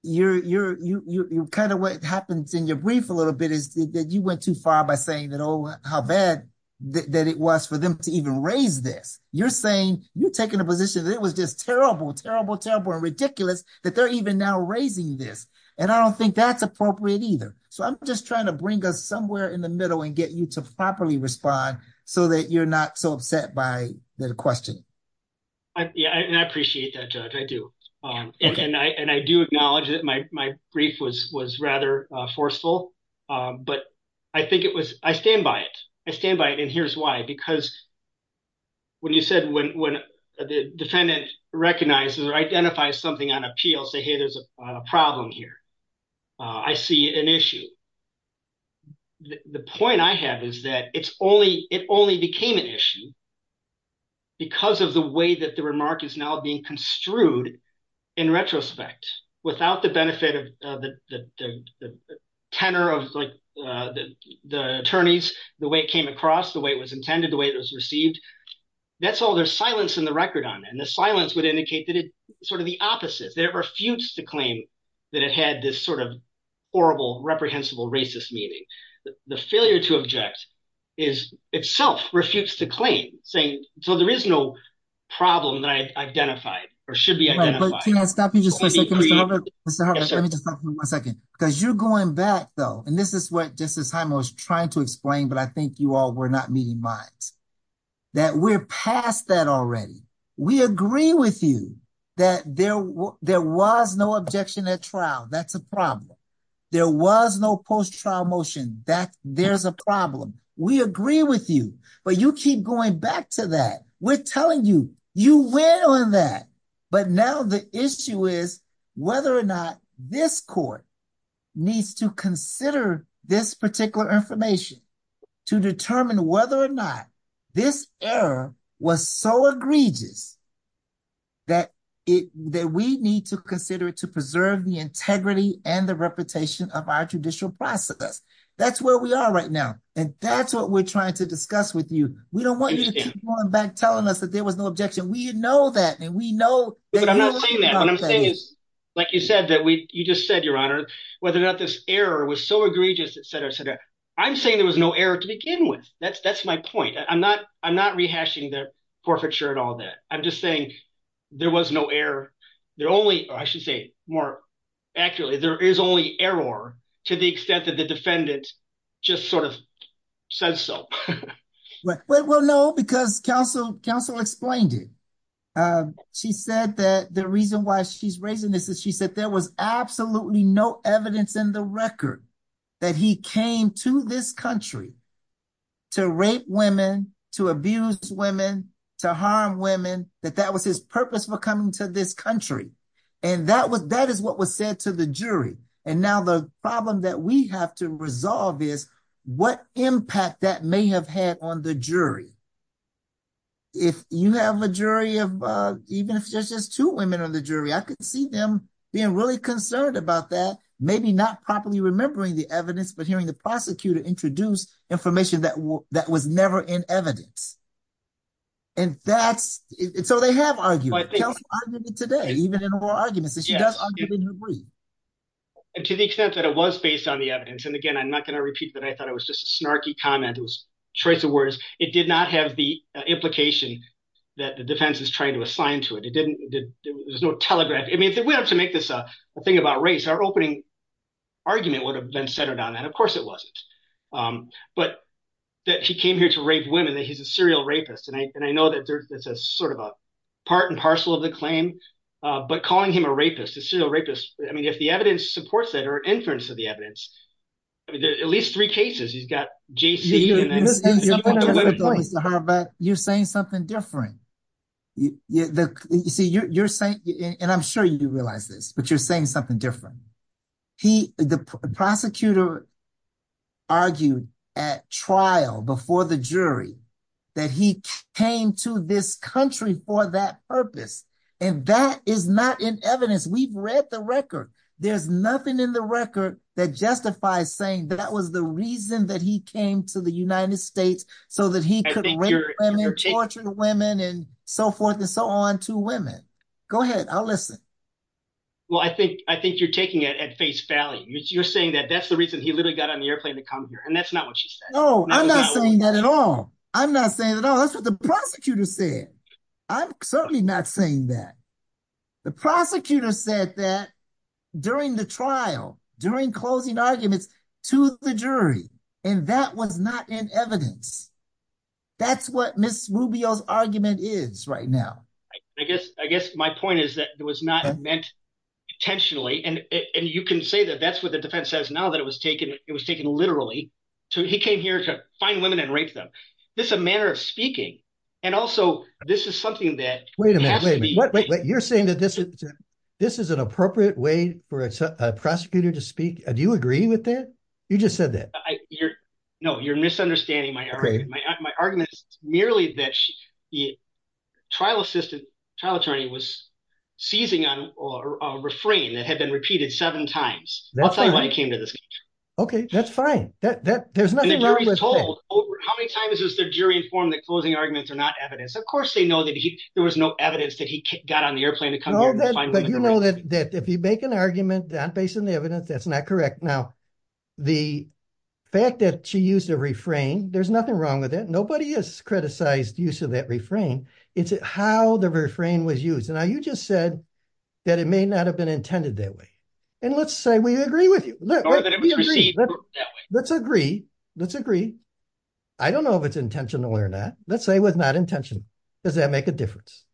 you're you're you're kind of what happens in your brief a little bit is that you went too far by saying that, oh, how bad that it was for them to even raise this. You're saying you're taking a position that it was just terrible, terrible, terrible, ridiculous that they're even now raising this. And I don't think that's appropriate either. So I'm just trying to bring us somewhere in the middle and get you to properly respond so that you're not so upset by the question. I appreciate that. I do. And I do acknowledge that my brief was was rather forceful. But I think it was I stand by it. I stand by it. And here's why. Because. When you said when the defendant recognizes or identifies something on appeal, say, hey, there's a problem here. I see an issue. The point I have is that it's only it only became an Because of the way that the remark is now being construed in retrospect, without the benefit of the tenor of like the attorneys, the way it came across, the way it was intended, the way it was received. That's all. There's silence in the record on that. And the silence would indicate that it's sort of the opposite. They refused to claim that it had this sort of horrible, reprehensible, racist meaning. The failure to object is itself refutes the claim, saying, so there is no problem that I identified or should be identified. Because you're going back, though, and this is what just the time I was trying to explain, but I think you all were not meeting my that we're past that already. We agree with you that there was no objection at trial. That's a problem. There was no post-trial motion. There's a problem. We agree with you, but you keep going back to that. We're telling you, you went on that. But now the issue is whether or not this court needs to consider this particular information to determine whether or not this error was so egregious that we need to consider to preserve the integrity and the reputation of our judicial process. That's where we are right now. And that's what we're trying to discuss with you. We don't want you to keep going back telling us that there was no objection. We know that, and we know... But I'm not saying that. What I'm saying is, like you said, you just said, Your Honor, whether or not this error was so egregious, et cetera, et cetera. I'm saying there was no error to begin with. That's my point. I'm not rehashing the case. I'm just saying there was no error. There only... I should say more accurately, there is only error to the extent that the defendant just sort of said so. Well, no, because counsel explained it. She said that the reason why she's raising this is she said there was absolutely no evidence in the record that he came to this country to rape women, to abuse women, to harm women, that that was his purpose for coming to this country. And that is what was said to the jury. And now the problem that we have to resolve is what impact that may have had on the jury. If you have a jury of even just two women on the jury, I could see them being really concerned about that, maybe not properly remembering the evidence, but hearing the prosecutor introduce information that was never in evidence. And that's... So they have argued. Counsel argued it today, even in oral arguments. She does argue it in her brief. And to the extent that it was based on the evidence, and again, I'm not going to repeat that. I thought it was just a snarky comment. It was a choice of words. It did not have the implication that the defense is trying to assign to it. It didn't... There was no telegraph. We have to make this a thing about race. Our opening argument would have been centered on that. Of course it wasn't. But that he came here to rape a woman, and he was a serial rapist. And I know that's sort of a part and parcel of the claim, but calling him a rapist, a serial rapist, if the evidence supports that or inference of the evidence, at least three cases you've got J.C. and... You're saying something different. You see, you're saying... And I'm sure you do realize this, but you're saying something different. The prosecutor argued at trial before the jury that he came to this country for that purpose. And that is not in evidence. We've read the record. There's nothing in the record that justifies saying that that was the reason that he came to the United States so that he could rape women, torture women and so forth and so on to women. Go ahead. I'll listen. Well, I think you're taking it at face value. You're saying that that's the reason he literally got on the airplane to come here, and that's not what you said. No, I'm not saying that at all. I'm not saying that at all. That's what the prosecutor said. I'm certainly not saying that. The prosecutor said that during the trial, during closing arguments to the jury, and that was not in evidence. That's what Ms. Rubio's argument is right now. I guess my point is that it was not meant intentionally, and you can say that that's what the defense says now that it was taken literally. He came here to find women and rape them. This is a manner of speaking, and also this is something that has to be... You're saying that this is an appropriate way for a prosecutor to speak? Do you agree with that? You just said that. No, you're misunderstanding my My argument is merely that the trial attorney was seizing a refrain that had been repeated seven times. That's not why he came to this meeting. Okay, that's fine. There's nothing wrong with that. How many times has the jury informed that closing arguments are not evidence? Of course they know that there was no evidence that he got on the airplane to come here and find women and rape them. You know that if you make an argument on the basis of the evidence, that's not correct. Now, the fact that she used a refrain, there's nothing wrong with it. Nobody has criticized the use of that refrain. It's how the refrain was used. Now, you just said that it may not have been intended that way, and let's say we agree with you. Let's agree. Let's agree. I don't know if it's intentional or not. Let's say it was not intentional. Does that make a difference?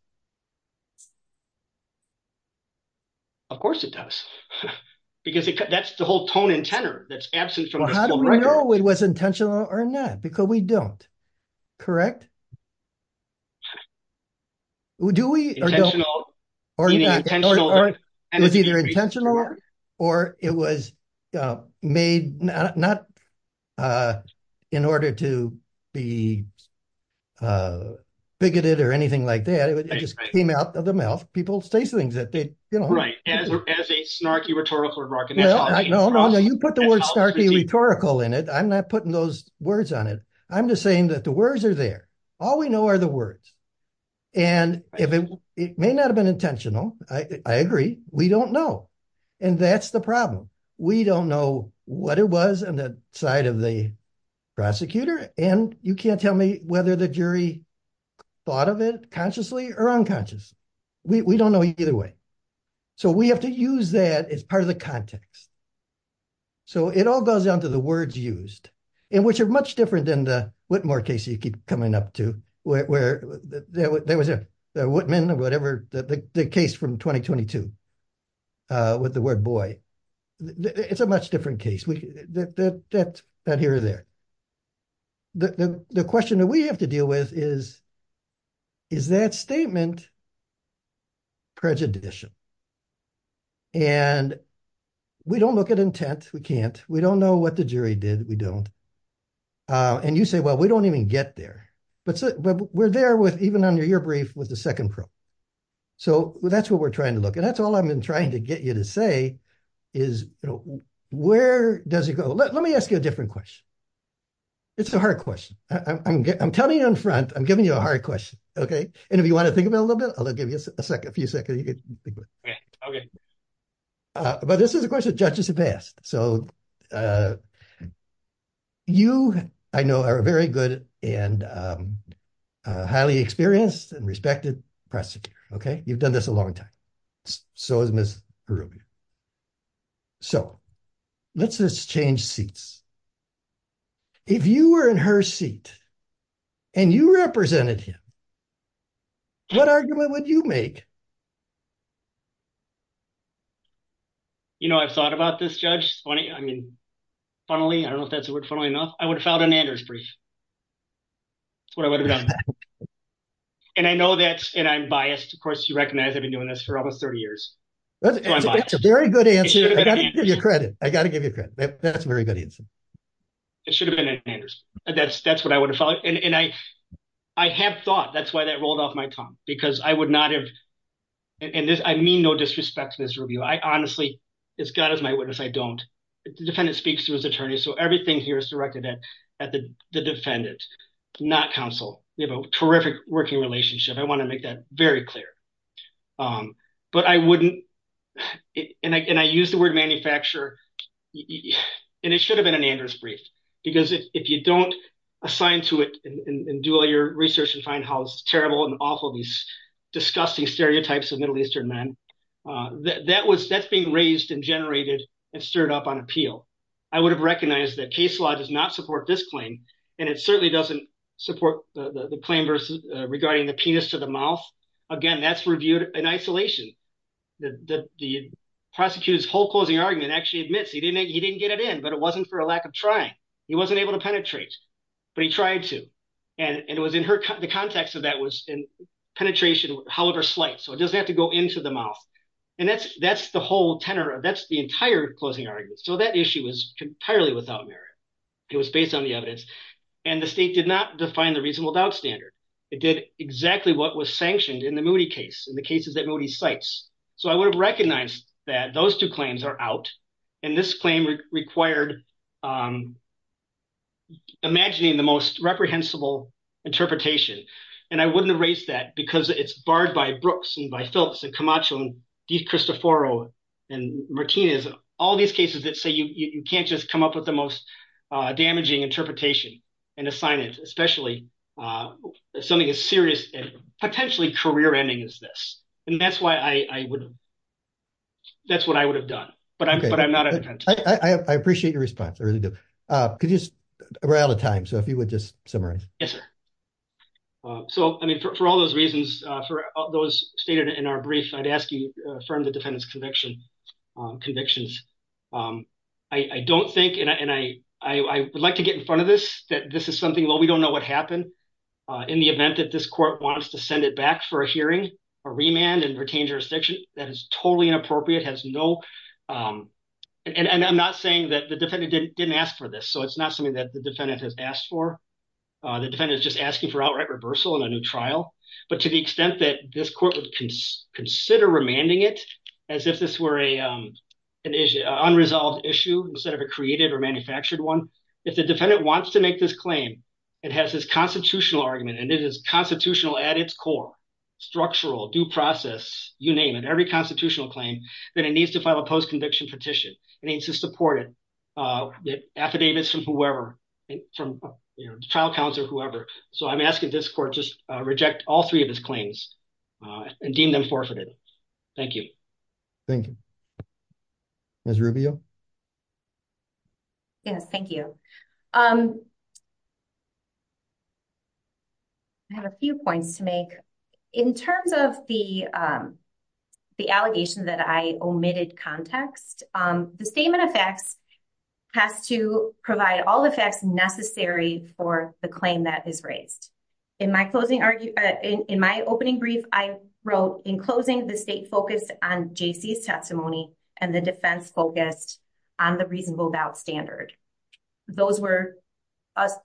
Of course it does. Because that's the whole tone and tenor that's absent from the How do we know it was intentional or not? Because we don't. Do we? Intentional. Either intentional or it was made not in order to be bigoted or anything like that. It just came out of the mouth. People say things that they don't know. As a snarky rhetorical remark. No, no, no. You put the word snarky rhetorical in it. I'm not putting those words on it. I'm just saying that the words are there. All we know are the words. And it may not have been intentional. I agree. We don't know. And that's the problem. We don't know what it was on the side of the prosecutor. And you can't tell me whether the jury thought of it consciously or unconsciously. We don't know either way. So we have to use that as part of the context. So it all goes down to the words used. And which are much different than the Whitmore case you keep coming up to where there was a Whitman or whatever the case from 2022 with the word boy. It's a much different case. That's not here or there. The question that we have to deal with is, is that statement prejudicial? And we don't look at intent. We can't. We don't know what the jury did. We don't. And you say, well, we don't even get there. But we're there with even under your brief with the second probe. So that's what we're trying to look at. That's all I'm trying to get you to say is, where does it go? Let me ask you a different question. It's a hard question. I'm telling you in front. I'm giving you a hard question. And if you want to think about it a little bit, I'll give you a few seconds. But this is a question that judges have asked. So you, I know, are a very good and highly experienced and respected prosecutor. You've done this a long time. So has Ms. So let's just change seats. If you were in her seat and you represented him, what argument would you make? You know, I've thought about this, Judge. Funny, I mean, funnily, I don't know if that's a word funnily enough, I would have filed an Anders brief. That's what I would have done. And I know that and I'm biased. Of course, you recognize that I've been doing this for over 30 years. That's a very good answer. I got to give you credit. I got to give you credit. That's a very good answer. It should have been Anders. That's what I would have followed. And I have thought that's why that rolled off my tongue, because I would not have. And I mean no disrespect to this review. I honestly, as God is my witness, I don't. The defendant speaks to his attorneys. So everything here is directed at the defendant, not counsel. We have a terrific working relationship. I want to make that very clear. But I wouldn't. And I use the word manufacturer. And it should have been an Anders brief, because if you don't assign to it and do all your research and find how terrible and awful these disgusting stereotypes of Middle Eastern men, that was that being raised and generated and stirred up on appeal. I would have recognized that case law does not support this claim, and it certainly doesn't support the claim regarding the penis to the mouth. Again, that's reviewed in isolation. The prosecutor's whole closing argument actually admits he didn't get it in, but it wasn't for a lack of trying. He wasn't able to penetrate, but he tried to. And it was in the context of that was penetration, however slight. So it doesn't have to go into the mouth. And that's the whole tenor. That's the entire closing argument. So that issue was entirely without merit. It was based on the evidence. And the state did not define the reasonable doubt standard. It did exactly what was sanctioned in the Moody case, in the cases that Moody cites. So I would have recognized that those two claims are out, and this claim required imagining the most reprehensible interpretation. And I wouldn't erase that because it's barred by Brooks and by Phillips and Camacho and DeCristoforo and Martinez, all these cases that say you can't just come up with the most damaging interpretation and define it, especially something as serious and potentially career-ending as this. And that's what I would have done. But I'm not attentive. I appreciate your response. I really do. We're out of time. So if you would just summarize. Yes, sir. So for all those reasons, for those stated in our brief, I'd ask you to affirm the defendant's convictions. I don't think, and I would like to get in front of this, that this is something, well, we don't know what happened. In the event that this court wants to send it back for a hearing or remand and retain jurisdiction, that is totally inappropriate, has no, and I'm not saying that the defendant didn't ask for this. So it's not something that the defendant has asked for. The defendant is just asking for outright reversal in a new But to the extent that this court would consider remanding it as if this were an unresolved issue instead of a created or manufactured one, if the defendant wants to make this claim, it has this constitutional argument, and it is constitutional at its core, structural, due process, you name it, every constitutional claim, that it needs to file a post-conviction petition. It needs to support it. The affidavits from whoever, from the child counselor, whoever. So I'm asking this court to reject all three of its claims and deem them forfeited. Thank you. Thank you. Ms. Rubio? Yes, thank you. I have a few points to make. In terms of the allegation that I omitted context, the statement of facts has to provide all the facts necessary for the claim that is raised. In my opening brief, I wrote, in closing, the state focused on J.C.'s testimony and the defense focused on the reasonable doubt standard. Those were,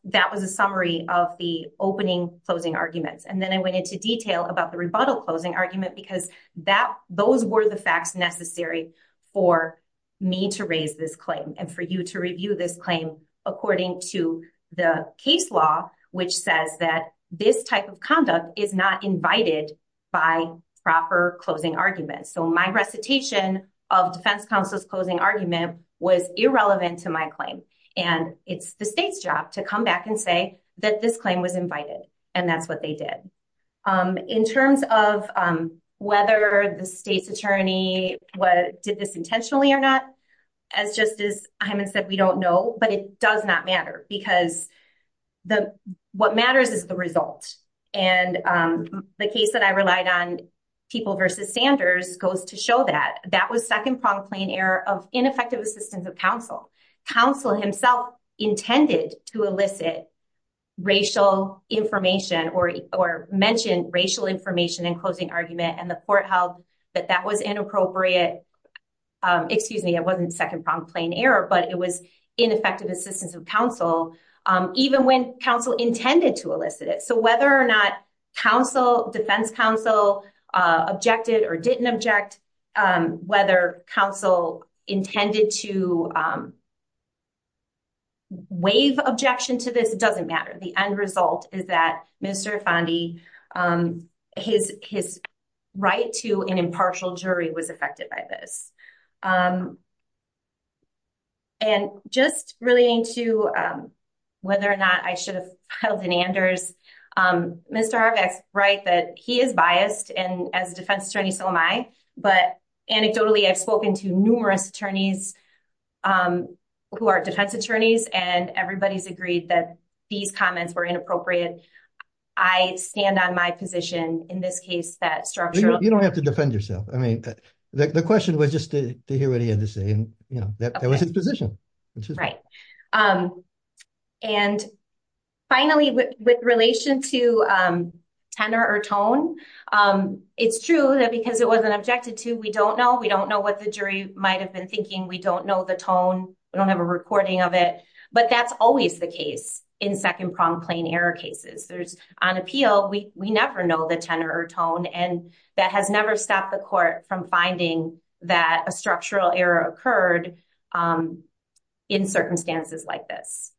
that was a summary of the opening closing arguments. And then I went into detail about the rebuttal closing argument because that, those were the facts necessary for me to raise this claim and for you to review this claim according to the case law, which says that this type of conduct is not invited by proper closing arguments. So my recitation of defense counsel's closing argument was irrelevant to my claim and it's the state's job to come back and say that this claim was invited and that's what they did. In terms of whether the state attorney did this intentionally or not, as Justice Hyman said, we don't know, but it does not matter because the, what matters is the result. And the case that I relied on, People v. Sanders, goes to show that. That was second-pronged claim error of ineffective assistance of counsel. Counsel himself intended to elicit racial information or mention racial information in closing argument and the court held that that was inappropriate, excuse me, it wasn't second-pronged claim error, but it was ineffective assistance of counsel even when counsel intended to elicit it. So whether or not counsel, defense counsel, objected or didn't object, whether counsel intended to waive objection to this, it doesn't matter. The end result is that Mr. Fondi, his right to an impartial jury was affected by this. And just relating to whether or not I should have held an Anders, Mr. Arbeck writes that he is biased and as a defense attorney so am I, but anecdotally I've spoken to numerous attorneys who are defense attorneys and everybody's agreed that these comments were inappropriate. I stand on my position in this case that structure. You don't have to defend yourself. The question was just to hear what he had to say. That was his position. Right. And finally, with relation to tenor or tone, it's true that because it wasn't objected to, we don't know. We don't know what the jury might have been thinking. We don't know the tone. We don't have a recording of it. But that's always the case in second-pronged plain error cases. On appeal, we never know the tenor or tone and that has never stopped the court from finding that a structural error occurred in circumstances like this.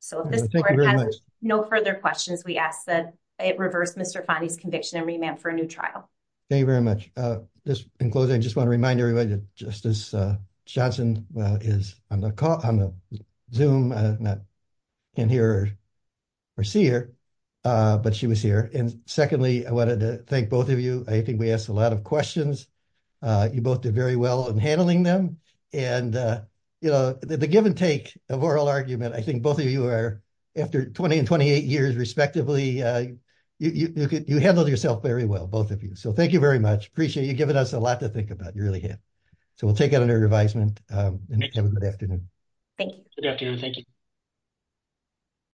So if this court has no further questions, we ask that it reverse Mr. Fondi's conviction and remand for a new trial. Thank you very much. Just in closing, I just want to remind everybody that just as Johnson is on the Zoom, I'm not in here or see her, but she was here. And secondly, I wanted to thank both of you. I think we asked a lot of You both did very well in handling them. And, you know, the give and take of oral argument, I think both of you are after 20 and 28 years respectively, you handled yourself very well, both of you. So thank you very much. Appreciate you giving us a lot to think about. You really have. So we'll take it under advisement and have a good afternoon. Thank you. Thank you.